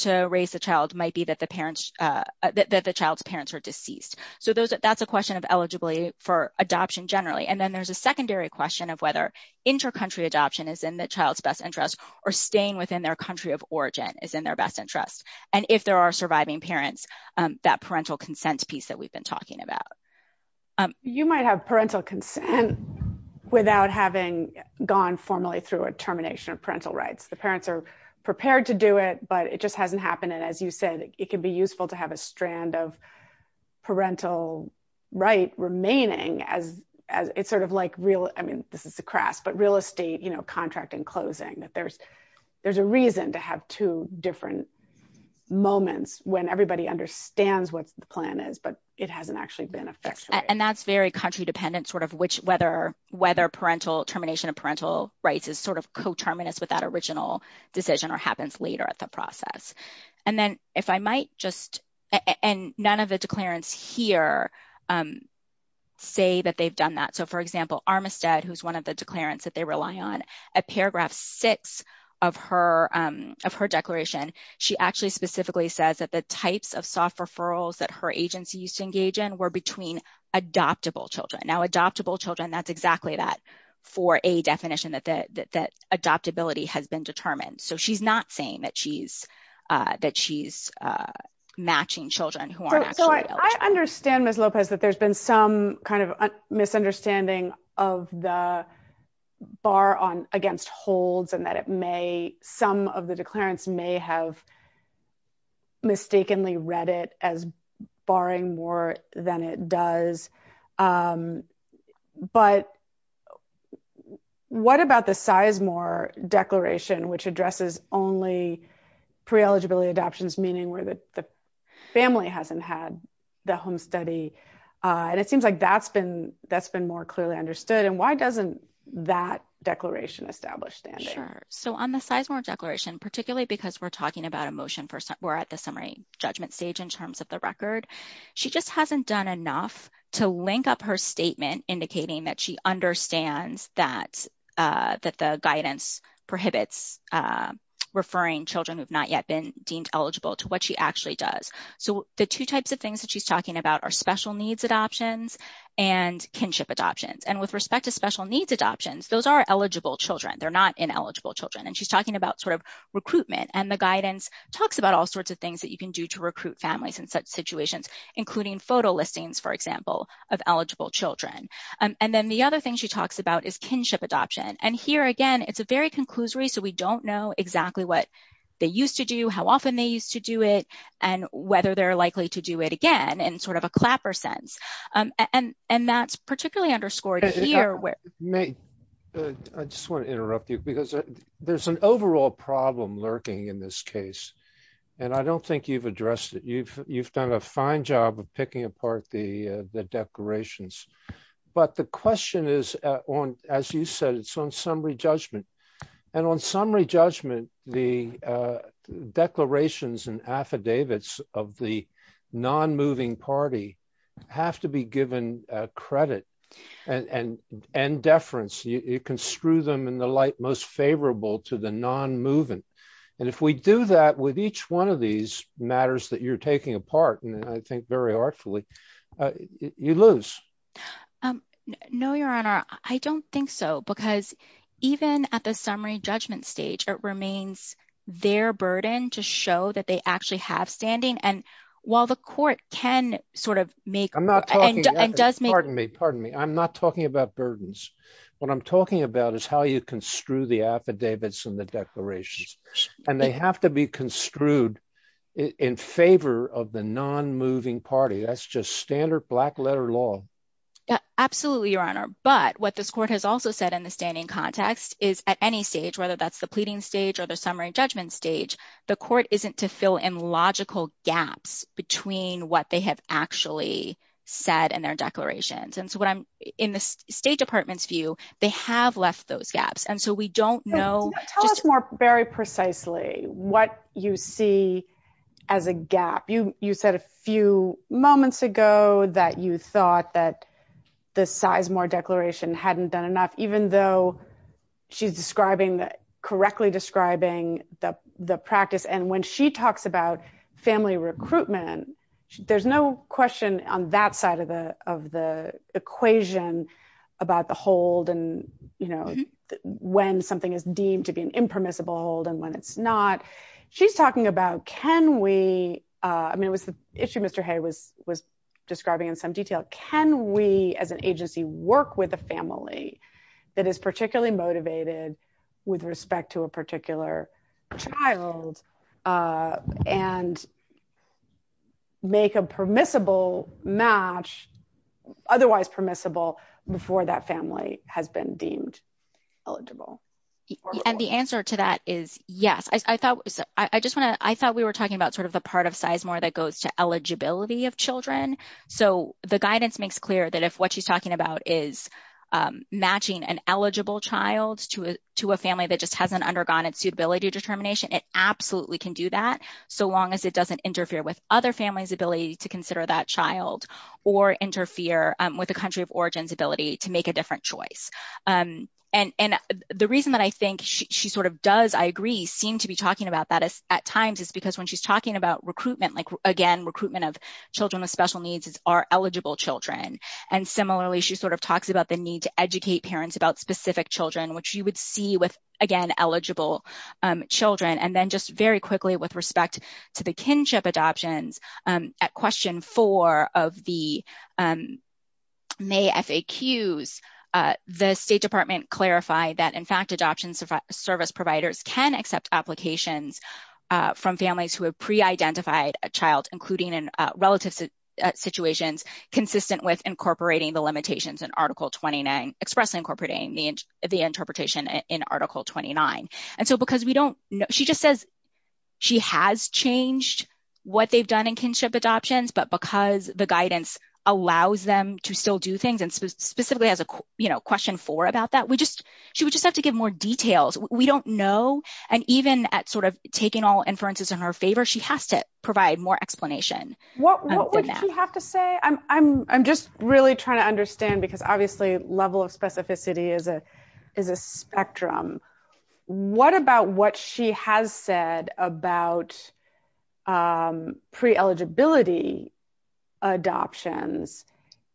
to raise the child, might be that the child's parents are deceased. So that's a question of eligibility for adoption generally. And then there's a secondary question of whether inter-country adoption is in the child's best interest or staying within their country of origin is in their best interest. And if there are surviving parents, that parental consent piece that we've been talking about. You might have parental consent without having gone formally through a termination of parental rights. The parents are prepared to do it, but it just hasn't happened. And as you said, it can be useful to have a strand of parental right remaining as it's sort of like real, I mean, this is a craft, but real estate, you know, contract and closing that there's a reason to have two different moments when everybody understands what the plan is, but it hasn't actually been effectuated. And that's very country dependent, sort of whether termination of parental rights is sort of co-terminus with that original decision or happens later at the process. And then if I might just, and none of the declarants here say that they've done that. So for example, Armistead, who's one of the declarants that they rely on, at paragraph six of her declaration, she actually specifically says that the types of soft referrals that her agency used to engage in were between adoptable children. Now adoptable children, that's exactly that for a definition that adoptability has been determined. So she's not saying that she's matching children. So I understand Ms. Lopez, that there's been some kind of misunderstanding of the bar on against holds and that it may, some of the declarants may have mistakenly read it as barring more than it does. But what about the Sizemore declaration, which addresses only pre-eligibility adoptions, meaning where the family hasn't had the home study? And it seems like that's been more clearly understood. And why doesn't that declaration establish that? Sure. So on the Sizemore declaration, particularly because we're talking about a motion for, we're at the summary judgment stage in terms of the record, she just hasn't done enough to link up her statement indicating that she understands that the guidance prohibits referring children who've not yet been deemed eligible to what she actually does. So the two types of things that she's talking about are special needs adoptions and kinship adoptions. And with respect to special needs adoptions, those are eligible children. They're not ineligible children. And she's talking about recruitment and the guidance talks about all sorts of things that you can do to recruit families in such situations, including photo listings, for example, of eligible children. And then the other thing she talks about is kinship adoption. And here, again, it's a very conclusory, so we don't know exactly what they used to do, how often they used to do it, and whether they're likely to do it again in sort of a clapper sense. And that's particularly underscored here where- I just want to interrupt you because there's an overall problem lurking in this case. And I don't think you've addressed it. You've done a fine job of picking apart the declarations. But the question is, as you said, it's on summary judgment. And on summary judgment, the declarations and affidavits of the non-moving party have to be given credit and deference. You can screw them in the light most favorable to the non-moving. And if we do that with each one of these matters that you're taking apart, and I think very artfully, you lose. No, Your Honor. I don't think so. Because even at the summary judgment stage, it remains their burden to show that they actually have standing. And while the court can sort of make- I'm not talking- Pardon me. Pardon me. I'm not talking about burdens. What I'm talking about is how you construe the affidavits and the declarations. And they have to be construed in favor of the non-moving party. That's just standard black letter law. Yeah, absolutely, Your Honor. But what this court has also said in the standing context is at any stage, whether that's the pleading stage or the summary judgment stage, the court isn't to fill in logical gaps between what they have actually said in their declarations. And so in the State Department's view, they have left those gaps. And so we don't know- Tell us more very precisely what you see as a gap. You said a few moments ago that you thought that the Sizemore Declaration hadn't been enough, even though she's correctly describing the practice. And when she talks about family recruitment, there's no question on that side of the equation about the hold and when something is deemed to be an impermissible hold and when it's not. She's talking about can we- I mean, it was the issue Mr. Hay was describing in some detail. Can we as an agency work with a family that is particularly motivated with respect to a and make a permissible match, otherwise permissible, before that family has been deemed eligible? And the answer to that is yes. I thought we were talking about sort of the part of Sizemore that goes to eligibility of children. So the guidance makes clear that if what she's talking about is matching an eligible child to a family that just hasn't undergone its suitability determination, it absolutely can do that so long as it doesn't interfere with other families' ability to consider that child or interfere with a country of origin's ability to make a different choice. And the reason that I think she sort of does, I agree, seem to be talking about that at times is because when she's talking about recruitment, like again, recruitment of children with special needs are eligible children. And similarly, she sort of talks about the need to children. And then just very quickly with respect to the kinship adoptions, at question four of the May FAQs, the State Department clarified that, in fact, adoption service providers can accept applications from families who have pre-identified a child, including in relative situations, consistent with incorporating the limitations in Article 29, expressly incorporating the interpretation in Article 29. And so because we don't know, she just says she has changed what they've done in kinship adoptions, but because the guidance allows them to still do things and specifically has a, you know, question four about that, we just, she would just have to give more details. We don't know. And even at sort of taking all inferences in her favor, she has to provide more explanation. What would she have to say? I'm just really trying to understand because obviously level of specificity is a spectrum. What about what she has said about pre-eligibility adoptions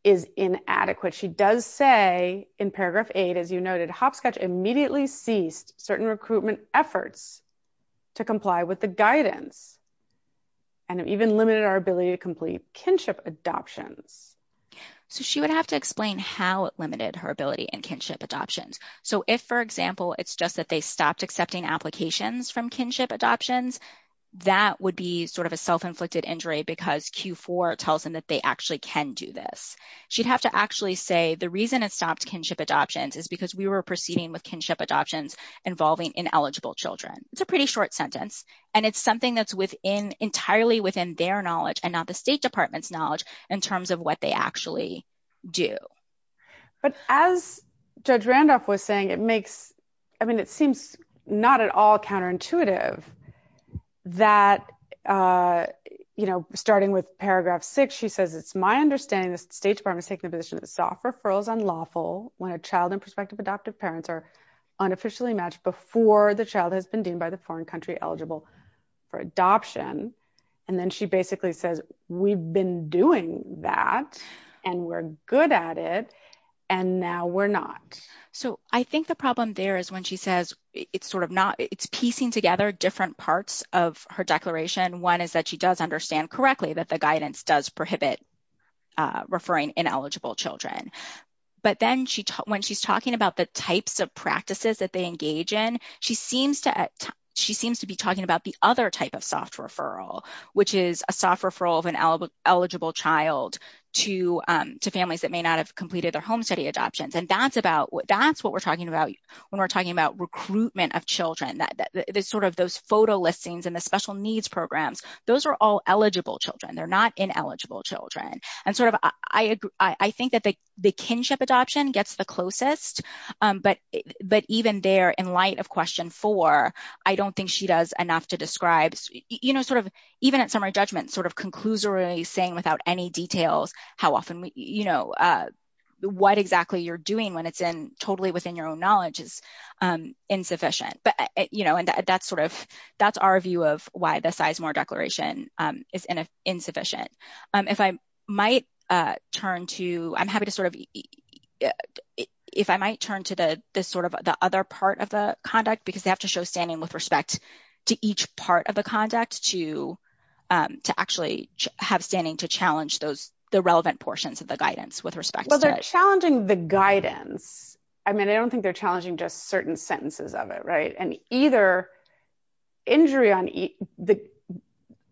is inadequate? She does say in paragraph eight, as you noted, Hopscotch immediately ceased certain recruitment efforts to comply with the guidance and even limited our ability to complete kinship adoptions. So she would have to explain how it limited her ability in kinship adoptions. So if, for example, it's just that they stopped accepting applications from kinship adoptions, that would be sort of a self-inflicted injury because Q4 tells them that they actually can do this. She'd have to actually say the reason it stopped kinship adoptions is because we were proceeding with kinship adoptions involving ineligible children. It's a pretty short sentence and it's something that's within entirely within their knowledge and not the State Department's knowledge in terms of what they actually do. But as Judge Randolph was saying, it makes, I mean, it seems not at all counterintuitive that, you know, starting with paragraph six, she says, it's my understanding the State Department is taking a position that soft referrals are unlawful when a child and prospective adoptive parents are unofficially matched before the child has been deemed by the foreign country eligible for adoption. And then she basically says, we've been doing that and we're good at it and now we're not. So I think the problem there is when she says it's sort of not, it's piecing together different parts of her declaration. One is that she does understand correctly that the guidance does prohibit referring ineligible children. But then when she's talking about the types of practices that they engage in, she seems to be talking about the other type of soft referral, which is a soft referral of an eligible child to families that may not have completed their home study adoptions. And that's what we're talking about when we're talking about recruitment of children, that sort of those photo listings and the special needs programs, those are all eligible children. They're not ineligible children. And sort of, I think that the kinship adoption gets the closest, but even there in light of question four, I don't think she does enough to describe, sort of even at summer judgment, sort of conclusory saying without any details how often, what exactly you're doing when it's in totally within your own knowledge is insufficient. And that's sort of, that's our view of why the Sizemore Declaration is insufficient. If I might turn to, I'm happy to sort of, if I might turn to the sort of the other part of the conduct, because they have to show standing with respect to each part of the conduct to actually have standing to challenge those, the relevant portions of the guidance with respect. Well, they're challenging the guidance. I mean, I don't think they're challenging just certain sentences of it, right? And either injury on the,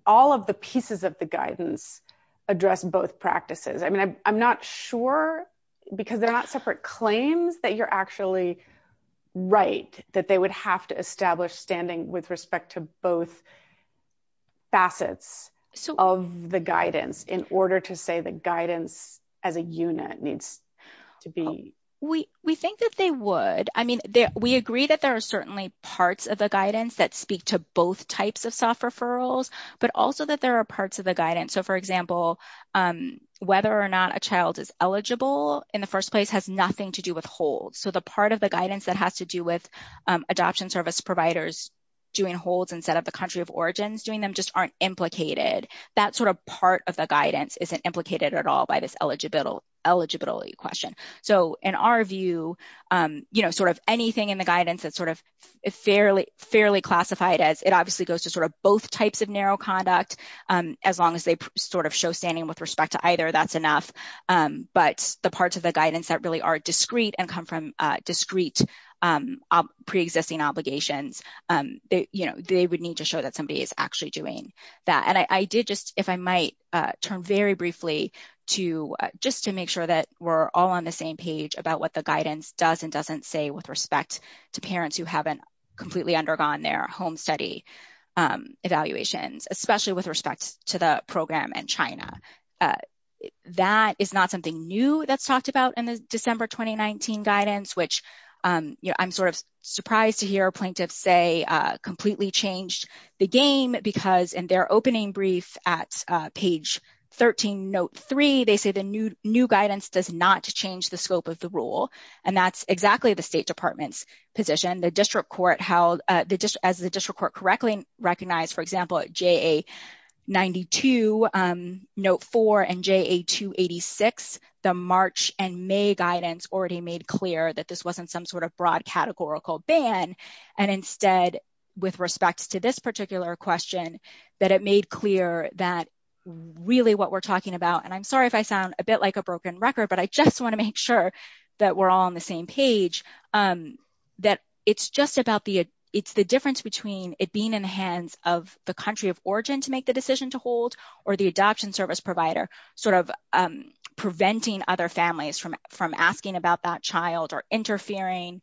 all of the pieces of the guidance address both practices. I mean, I'm not sure because they're not separate claims that you're actually right, that they would have to establish standing with respect to both facets of the guidance in order to say the guidance as a unit needs to be. We think that they would. I mean, we agree that there are certainly parts of the guidance that speak to both types of self-referrals, but also that there are parts of the guidance. So, for example, whether or not a child is eligible in the first place has nothing to do with hold. So, the part of the guidance that has to do with adoption service providers doing holds instead of the country of origin, doing them just aren't implicated. That sort of part of the guidance isn't implicated at all by this eligibility question. So, in our view, you know, sort of anything in the guidance that's sort of fairly classified as it obviously goes to sort of both types of narrow conduct, as long as they sort of show standing with respect to either, that's enough. But the parts of the guidance that really are discrete and come from discrete pre-existing obligations, you know, they would need to show that somebody is actually doing that. And I did if I might turn very briefly to just to make sure that we're all on the same page about what the guidance does and doesn't say with respect to parents who haven't completely undergone their home study evaluations, especially with respect to the program in China. That is not something new that's talked about in the December 2019 guidance, which, you know, I'm sort of surprised to hear plaintiffs say completely changed the game because in their opening brief at page 13, note three, they say the new guidance does not change the scope of the rule. And that's exactly the State Department's position. The district court held, as the district court correctly recognized, for example, at JA 92, note four and JA 286, the March and May guidance already made clear that this wasn't some sort of broad categorical ban. And instead, with respect to this particular question, that it made clear that really what we're talking about, and I'm sorry if I sound a bit like a broken record, but I just want to make sure that we're all on the same page, that it's just about the, it's the difference between it being in the hands of the country of origin to make the decision to hold or the adoption service provider sort of preventing other families from asking about that child or interfering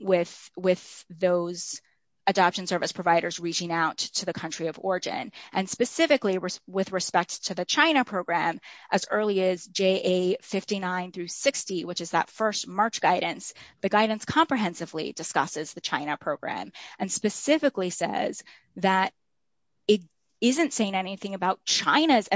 with those adoption service providers reaching out to the country of origin. And specifically with respect to the China program, as early as JA 59 through 60, which is that first March guidance, the guidance comprehensively discusses the China program and specifically says that it isn't saying anything about China's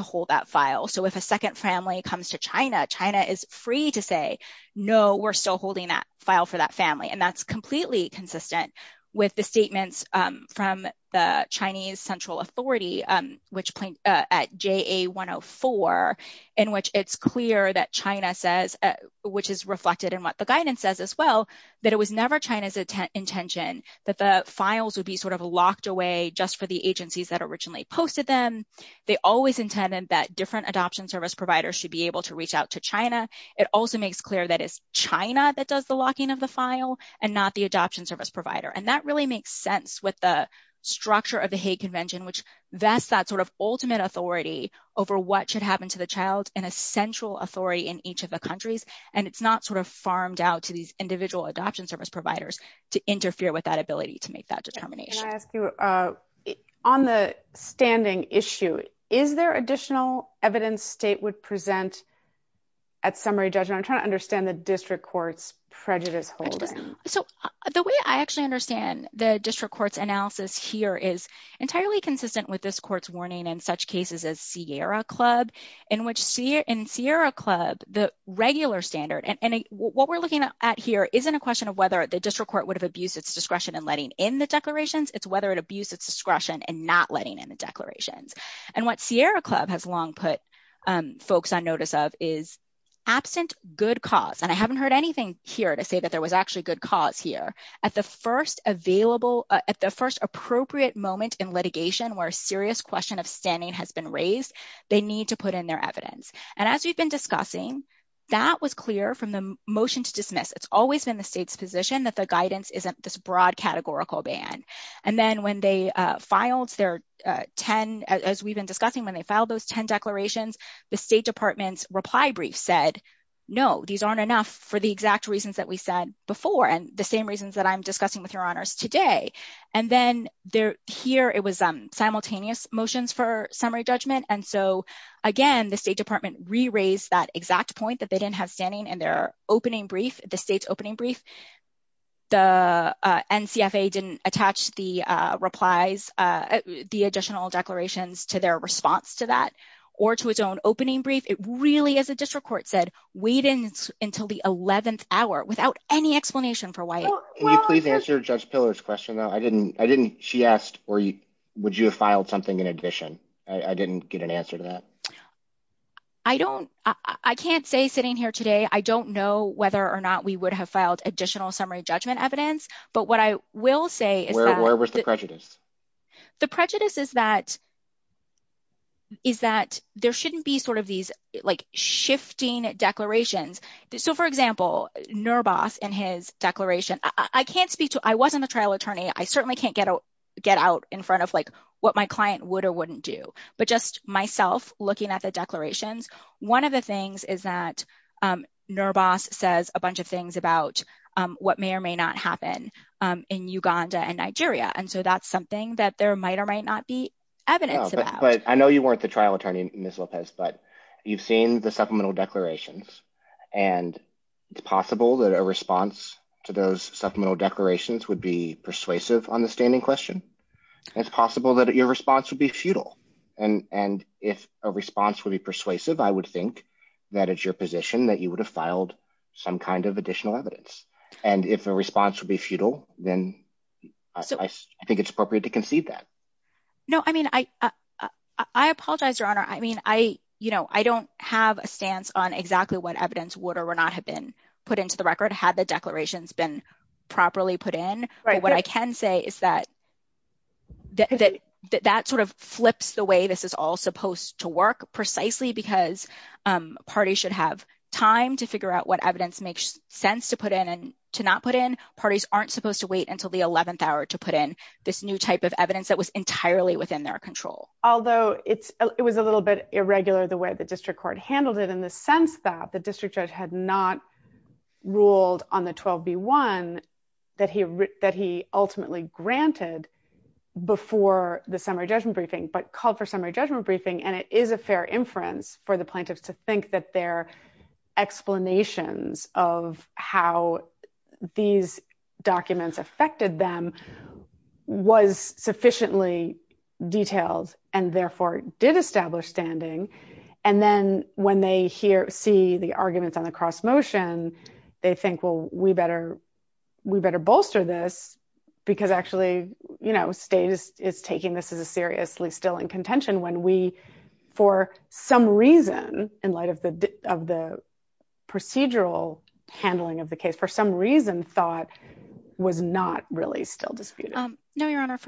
hold that file. So if a second family comes to China, China is free to say, no, we're still holding that file for that family. And that's completely consistent with the statements from the Chinese central authority, which at JA 104, in which it's clear that China says, which is reflected in what the guidance says as well, that it was never China's intention that the files would be sort of locked away just for the agencies that originally posted them. They always intended that different adoption service providers should be able to reach out to China. It also makes clear that it's China that does the locking of the file and not the adoption service provider. And that really makes sense with the structure of the Hague Convention, which that's that sort of ultimate authority over what should happen to the child and essential authority in each of the countries. And it's not sort of farmed out to these individual adoption service providers to interfere with that ability to make that determination. Can I ask you, on the standing issue, is there additional evidence state would present at summary judgment? I'm trying to understand the district court's prejudice holding. So the way I actually understand the district court's analysis here is entirely consistent with this court's warning in such cases as Sierra Club, in which in Sierra Club, the regular standard, and what we're looking at here isn't a question of whether the district court would abuse its discretion in letting in the declarations. It's whether it abuse its discretion and not letting in the declarations. And what Sierra Club has long put folks on notice of is absent good cause. And I haven't heard anything here to say that there was actually good cause here. At the first appropriate moment in litigation where a serious question of standing has been raised, they need to put in their evidence. And as we've been discussing, that was clear from the motion to dismiss. It's always in the state's position that the guidance isn't this broad categorical ban. And then when they filed their 10, as we've been discussing, when they filed those 10 declarations, the state department's reply brief said, no, these aren't enough for the exact reasons that we said before and the same reasons that I'm discussing with your honors today. And then here, it was simultaneous motions for summary judgment. And so, again, the state department re-raised that exact point that they didn't have standing in their opening brief, the state's opening brief. The NCFA didn't attach the replies, the additional declarations to their response to that or to its own opening brief. It really, as the district court said, waited until the 11th hour without any explanation for why. Can you please answer Judge Pillow's question, though? I didn't, she asked, would you have filed something in addition? I didn't get an answer to that. I don't, I can't say sitting here today, I don't know whether or not we would have filed additional summary judgment evidence. But what I will say is that- Where was the prejudice? The prejudice is that there shouldn't be sort of these, like, shifting declarations. So, for example, Nurboth and his declaration, I can't speak to, I wasn't a trial attorney. I can't speak to, like, what my client would or wouldn't do. But just myself looking at the declarations, one of the things is that Nurboth says a bunch of things about what may or may not happen in Uganda and Nigeria. And so that's something that there might or might not be evidence about. But I know you weren't the trial attorney, Ms. Lopez, but you've seen the supplemental declarations. And it's possible that a response to those supplemental declarations would be It's possible that your response would be futile. And if a response would be persuasive, I would think that it's your position that you would have filed some kind of additional evidence. And if a response would be futile, then I think it's appropriate to concede that. No, I mean, I apologize, Your Honor. I mean, I, you know, I don't have a stance on exactly what evidence would or would not have been put into the record had the declarations been properly put in. But what I can say is that that sort of flips the way this is all supposed to work precisely because parties should have time to figure out what evidence makes sense to put in and to not put in. Parties aren't supposed to wait until the 11th hour to put in this new type of evidence that was entirely within their control. Although it was a little bit irregular the way the district court handled it in the sense that district judge had not ruled on the 12B1 that he ultimately granted before the summary judgment briefing but called for summary judgment briefing and it is a fair inference for the plaintiffs to think that their explanations of how these documents affected them was sufficiently detailed and therefore did establish standing. And then when they see the arguments on the cross motion, they think, well, we better bolster this because actually, you know, state is taking this as a seriously still in contention when we, for some reason, in light of the procedural handling of the case, for some reason, thought was not really still disputed. No, your honor,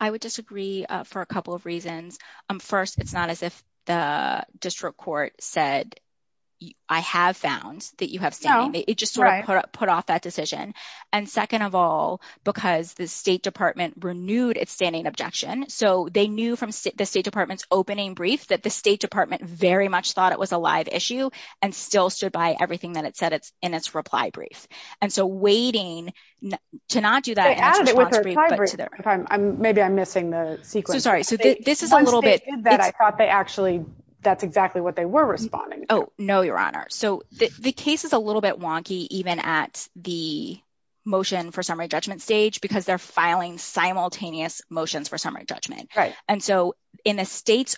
I would disagree for a couple of reasons. First, it's not as if the district court said I have found that you have found. It just sort of put off that decision. And second of all, because the state department renewed its standing objection, so they knew from the state department's opening brief that the state department very much thought it was a live issue and still stood by everything that it said in its reply brief. And so waiting to not do that. Maybe I'm missing the sequence. I'm sorry. So this is a little bit. I thought they actually, that's exactly what they were responding to. Oh, no, your honor. So the case is a little bit wonky even at the motion for summary judgment stage because they're filing simultaneous motions for summary judgment. And so in the state's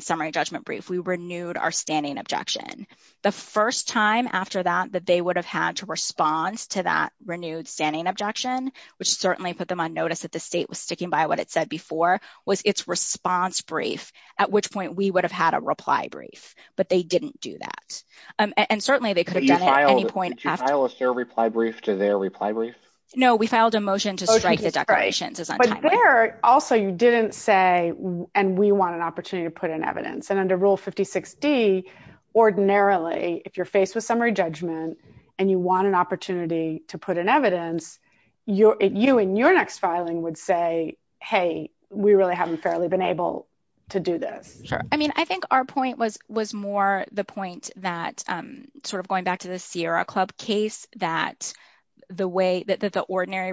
summary judgment brief, we renewed our standing objection. The first time after that that they would have had to respond to that renewed standing objection, which certainly put them on notice that the state was sticking by what it said before, was its response brief, at which point we would have had a reply brief. But they didn't do that. And certainly they could have done it at any point. Did you file a fair reply brief to their reply brief? No, we filed a motion to strike the declaration. But there also you didn't say, and we want an opportunity to put in evidence. And under Rule 56D, ordinarily, if you're faced with summary judgment and you want an opportunity to put in evidence, you and your next filing would say, hey, we really haven't fairly been able to do this. Sure. I mean, I think our point was more the point that sort of going back to the Sierra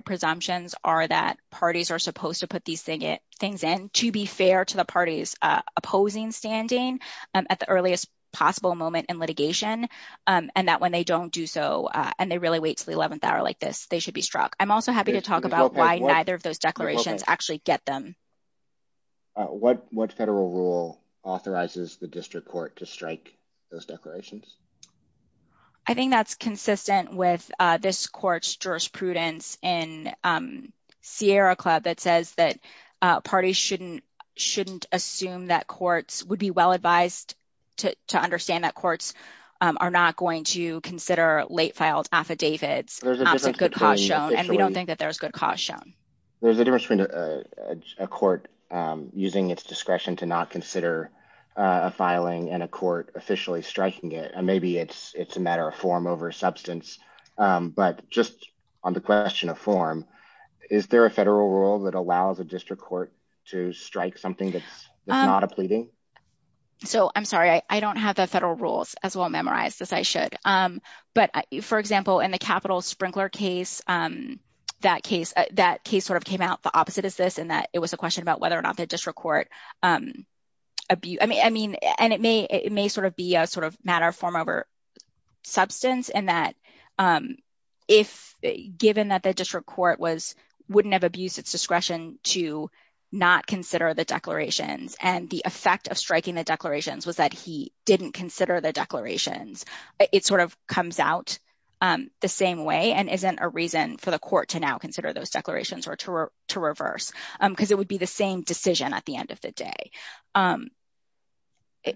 presumptions are that parties are supposed to put these things in to be fair to the party's opposing standing at the earliest possible moment in litigation. And that when they don't do so, and they really wait till the 11th hour like this, they should be struck. I'm also happy to talk about why neither of those declarations actually get them. What federal rule authorizes the district court to strike those declarations? I think that's consistent with this court's jurisprudence in Sierra Club that says that parties shouldn't assume that courts would be well advised to understand that courts are not going to consider late filed affidavits. There's a difference between- And we don't think that there's good cause shown. There's a difference between a court using its discretion to not consider a filing and a court officially striking it. And maybe it's a matter of form over substance. But just on the question of form, is there a federal rule that allows a district court to strike something that's not a pleading? So, I'm sorry. I don't have the federal rules as well memorized as I should. But for example, in the capital sprinkler case, that case sort of came out the opposite of this in that it was about whether or not the district court- And it may sort of be a matter of form over substance in that given that the district court wouldn't have abused its discretion to not consider the declarations and the effect of striking the declarations was that he didn't consider the declarations, it sort of comes out the same way and isn't a reason for the court to now consider those declarations or to reverse. Because it would be the same decision at the end of the day.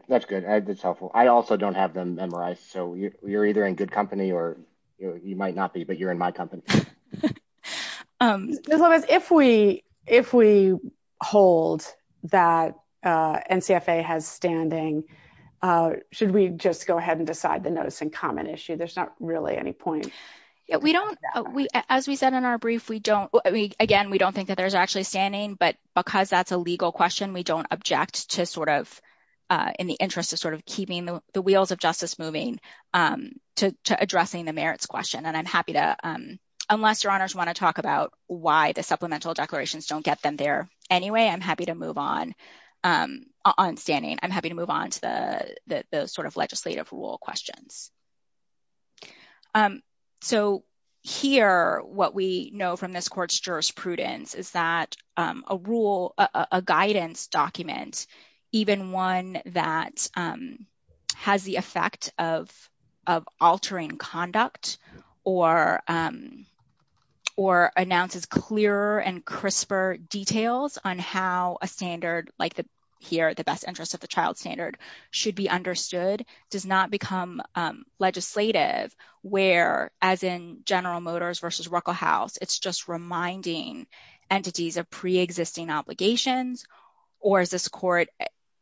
That's good. That's helpful. I also don't have them memorized. So, you're either in good company or you might not be, but you're in my company. If we hold that NCFA has standing, should we just go ahead and decide the notice in common issue? There's not really any point. We don't, as we said in our brief, we don't, again, we don't think that there's actually standing, but because that's a legal question, we don't object to sort of, in the interest of sort of keeping the wheels of justice moving to addressing the merits question. And I'm happy to, unless your honors want to talk about why the supplemental declarations don't get them there anyway, I'm happy to move on on standing. I'm happy to move on to the sort of legislative rule questions. So, here, what we know from this court's jurisprudence is that a rule, a guidance document, even one that has the effect of altering conduct or announces clearer and crisper details on how a standard, like here, the best interest of the child standard should be understood, does not become legislative where, as in General Motors versus Ruckelhaus, it's just reminding entities of preexisting obligations, or as this court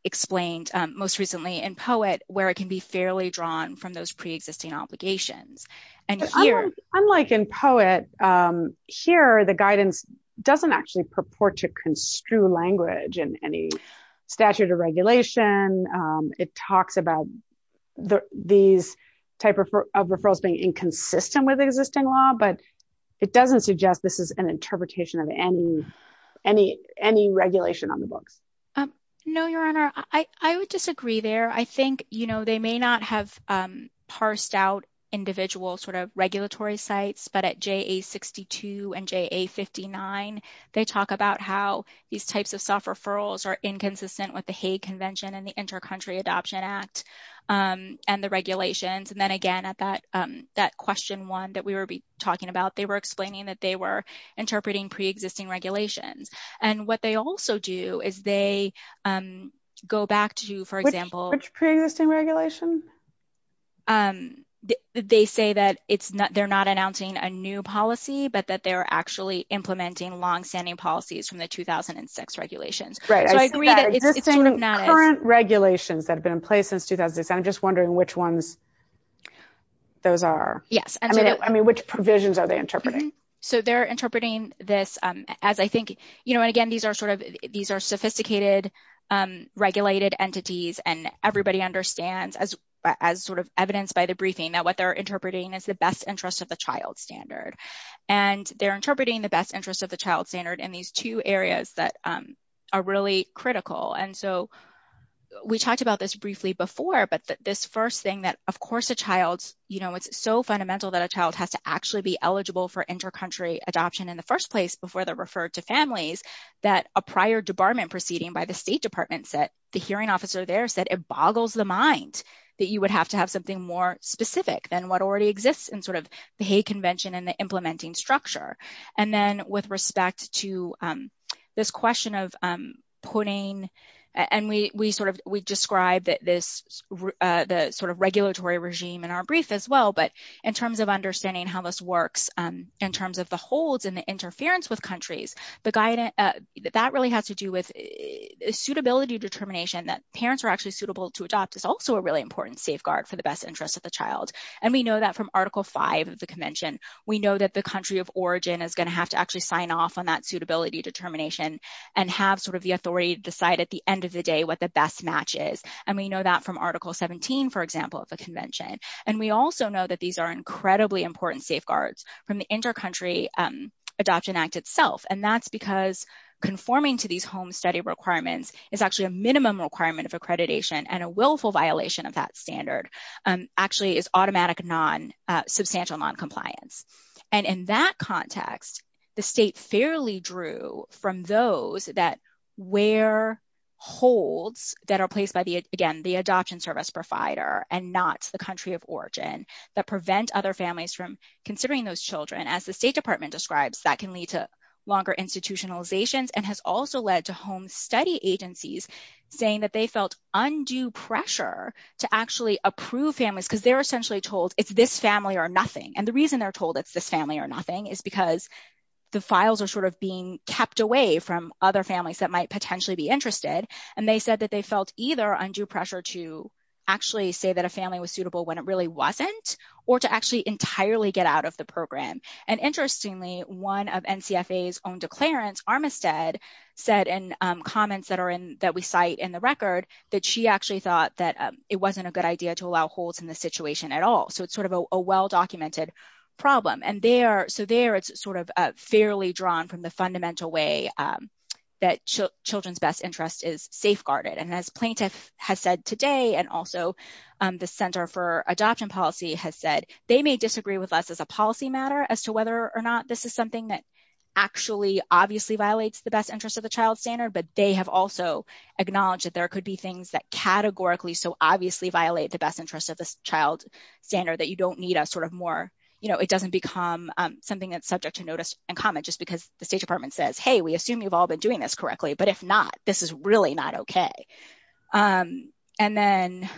explained most recently in Poet, where it can be fairly drawn from those preexisting obligations. Unlike in Poet, here, the guidance doesn't actually purport to construe language in any regulation. It talks about these type of referrals being inconsistent with existing law, but it doesn't suggest this is an interpretation of any regulation on the book. No, your honor, I would disagree there. I think, you know, they may not have parsed out individual sort of regulatory sites, but at JA62 and JA59, they talk about how these types of referrals are inconsistent with the Hague Convention and the Inter-Country Adoption Act and the regulations. And then again, at that question one that we were talking about, they were explaining that they were interpreting preexisting regulations. And what they also do is they go back to, for example... Which preexisting regulations? They say that they're not announcing a new policy, but that they're actually implementing long-standing policies from the 2006 regulations. Right. So I agree that it's not... It's in the current regulations that have been in place since 2007. I'm just wondering which ones those are. Yes. I mean, which provisions are they interpreting? So they're interpreting this as, I think, you know, and again, these are sophisticated, regulated entities, and everybody understands, as sort of evidenced by the briefing, that what they're interpreting is the best interest of the child standard. And they're interpreting the best interest of the child standard in these two areas that are really critical. And so we talked about this briefly before, but this first thing that, of course, a child's, you know, it's so fundamental that a child has to actually be eligible for inter-country adoption in the first place before they're referred to families, that a prior debarment proceeding by the State Department said, the hearing officer there said, it boggles the mind that you would have to have something more specific than what already exists in sort of the convention and the implementing structure. And then with respect to this question of putting, and we sort of, we described this, the sort of regulatory regime in our brief as well, but in terms of understanding how this works, in terms of the holds and the interference with countries, the guidance, that really has to do with suitability determination that parents are actually suitable to adopt is also a really important safeguard for the best interest of the child. And we know that from Article 5 of the convention. We know that the country of origin is going to have to actually sign off on that suitability determination and have sort of the authority to decide at the end of the day what the best match is. And we know that from Article 17, for example, of the convention. And we also know that these are incredibly important safeguards from the Inter-Country Adoption Act itself. And that's because conforming to these home study requirements is actually a minimum requirement of accreditation and a willful violation of that standard actually is automatic non-substantial non-compliance. And in that context, the state fairly drew from those that where holds that are placed by the, again, the adoption service provider and not the country of origin that prevent other families from considering those children as the State Department describes that can lead to longer institutionalizations and has also led to home study agencies saying that they felt undue pressure to actually approve families because they're essentially told it's this family or nothing. And the reason they're told it's this family or nothing is because the files are sort of being kept away from other families that might potentially be interested. And they said that they felt either undue pressure to actually say that a family was suitable when it really wasn't, or to actually entirely get out of the program. And interestingly, one of NCFA's own declarants, Armistead, said in comments that are in that we cite in the record that she actually thought that it wasn't a good idea to allow holds in the situation at all. So it's sort of a well-documented problem. And there, so there it's sort of fairly drawn from the fundamental way that children's best interest is safeguarded. And as plaintiffs have said today, and also the Center for Adoption Policy has said, they may disagree with us as a policy matter as to whether or not this is something that actually obviously violates the best interest of the child standard, but they have also acknowledged that there could be things that categorically so obviously violate the best interest of the child standard that you don't need a sort of more, you know, it doesn't become something that's subject to notice and comment just because the State Department says, hey, we assume you've all been doing this correctly, but if not, this is really not okay. And then...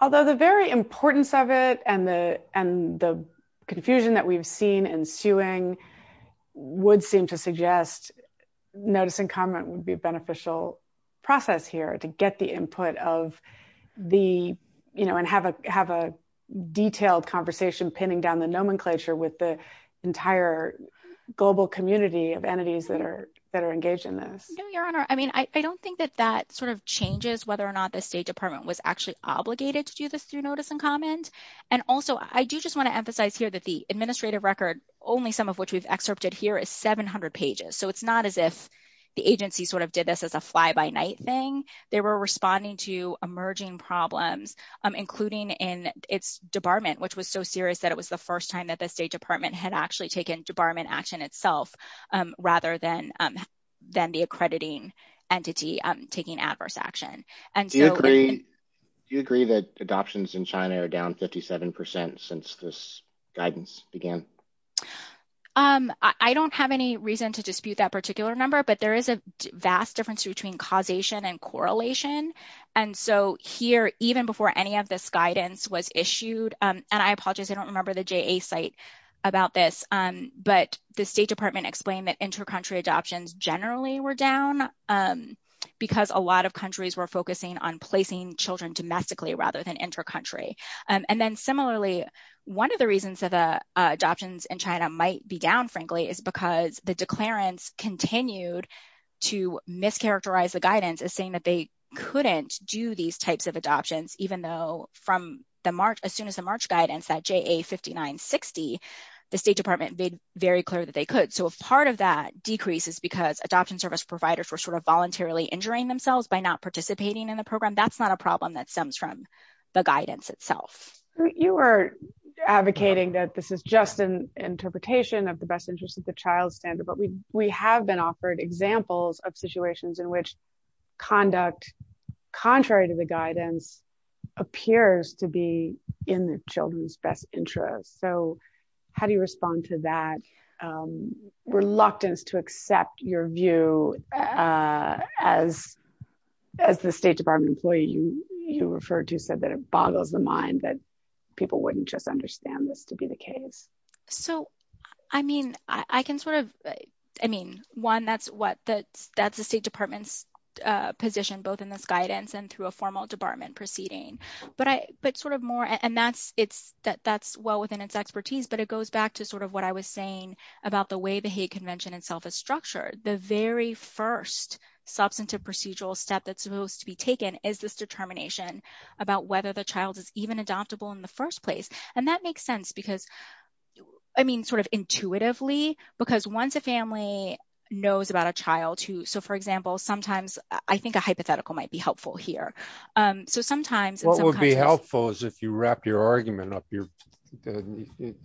Although the very importance of it and the confusion that we've seen ensuing would seem to suggest notice and comment would be a beneficial process here to get the input of the, you know, and have a detailed conversation pinning down the nomenclature with the entire global community of entities that are engaged in this. No, Your Honor. I mean, I don't think that that sort of changes whether or not the State Department was actually obligated to do this through notice and comment. And also, I do just want to emphasize here that the administrative record, only some of which was excerpted here, is 700 pages. So it's not as if the agency sort of did this as a fly-by-night thing. They were responding to emerging problems, including in its debarment, which was so serious that it was the first time that the State Department had actually taken debarment action itself, rather than the accrediting entity taking adverse action. Do you agree that adoptions in China are down 57% since this guidance began? I don't have any reason to dispute that particular number, but there is a vast difference between causation and correlation. And so here, even before any of this guidance was explained, the State Department explained that inter-country adoptions generally were down because a lot of countries were focusing on placing children domestically rather than inter-country. And then similarly, one of the reasons that adoptions in China might be down, frankly, is because the declarants continued to mischaracterize the guidance as saying that they couldn't do these types of adoptions, even though as soon as the March guidance at JA5960, the State Department made very clear that they could. So part of that decrease is because adoption service providers were sort of voluntarily injuring themselves by not participating in the program. That's not a problem that stems from the guidance itself. You are advocating that this is just an interpretation of the best interest of the child standard, but we have been offered examples of situations in which conduct contrary to the guidance appears to be in the children's best interest. So how do you respond to that reluctance to accept your view as the State Department employee you referred to said that it boggles the mind that people wouldn't just understand this to be the position, both in this guidance and through a formal department proceeding? And that's well within its expertise, but it goes back to sort of what I was saying about the way the hate convention itself is structured. The very first substantive procedural step that's supposed to be taken is this determination about whether the child is even adoptable in the first place. And that makes sense because, I mean, sort of intuitively, because once a family knows about a child who, so for example, sometimes I think a hypothetical might be helpful here. So sometimes... What would be helpful is if you wrapped your argument up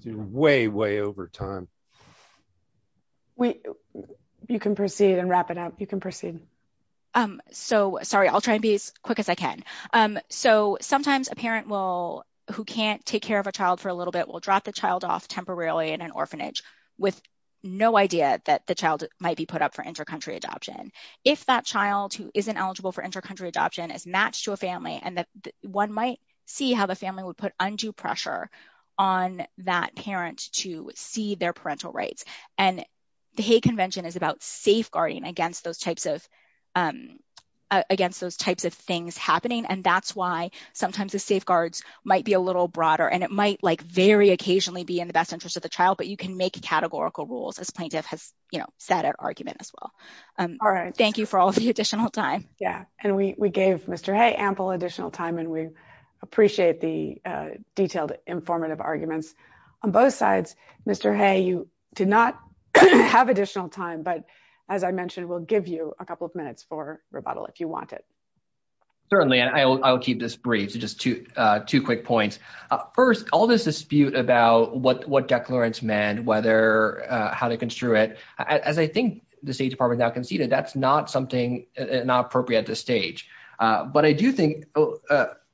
way, way over time. You can proceed and wrap it up. You can proceed. So sorry, I'll try to be as quick as I can. So sometimes a parent who can't take care of a child for a little bit will drop the child off temporarily in an orphanage with no idea that the child might be put up for inter-country adoption. If that child who isn't eligible for inter-country adoption is matched to a family, one might see how the family would put undue pressure on that parent to see their parental rights. And the hate convention is about safeguarding against those types of things happening. And that's why sometimes the safeguards might be a little broader. And it might very occasionally be in the best interest of the child, but you can make categorical rules, as Plaintiff has said at argument as well. All right. Thank you for all of the additional time. Yeah. And we gave Mr. Hay ample additional time, and we appreciate the detailed, informative arguments on both sides. Mr. Hay, you did not have additional time, but as I mentioned, we'll give you a couple of minutes for rebuttal if you want it. Certainly. I'll keep this brief. Just two quick points. First, all this dispute about what declarants meant, how to construe it, as I think the State Department now conceded, that's not appropriate at this stage. But I do think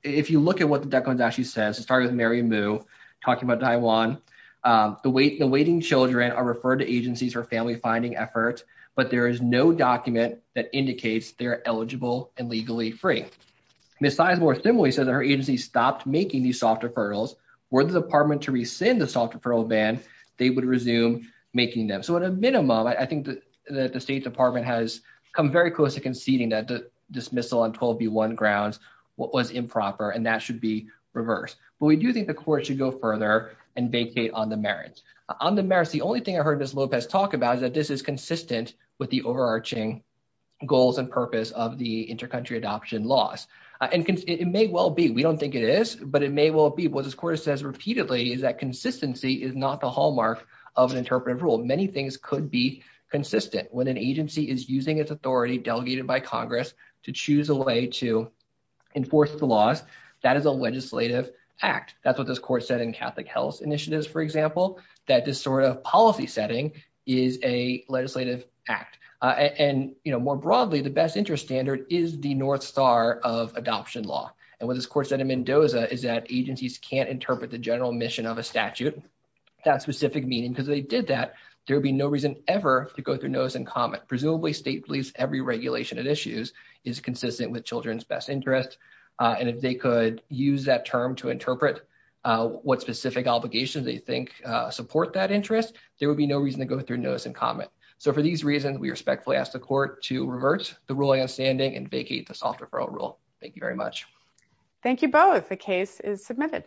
if you look at what the declarant actually says, it started with Mary Moo talking about Taiwan. The waiting children are referred to agencies for family-finding efforts, but there is no document that indicates they're eligible and legally free. Ms. Sizemore similarly said that her agency stopped making these soft referrals. Were the department to rescind the soft referral ban, they would resume making them. So at a minimum, I think that the State Department has come very close to conceding that the dismissal on 12B1 grounds was improper, and that should be reversed. But we do think the court should go further and bank bait on the merits. On the merits, the only thing I heard Ms. Lopez talk about is that this is consistent with the overarching goals and purpose of the inter-country adoption laws. And it may well be. We don't think it is, but it may well be. What this court says repeatedly is that consistency is not the hallmark of an interpretive rule. Many things could be consistent. When an agency is using its authority delegated by Congress to choose a way to enforce the laws, that is a legislative act. That's what this court said in Catholic Health Initiatives, for example, that this sort of policy setting is a legislative act. And more broadly, the best interest standard is the north star of adoption law. And what this court said in Mendoza is that agencies can't interpret the general mission of a statute, that specific meaning, because if they did that, there would be no reason ever to go through notice and comment. Presumably, every regulation and issue is consistent with children's best interest. And if they could use that term to interpret what specific obligations they think support that interest, there would be no reason to go through notice and comment. So for these reasons, we respectfully ask the court to reverse the ruling of standing and vacate the soft referral rule. Thank you very much. Thank you both. The case is submitted.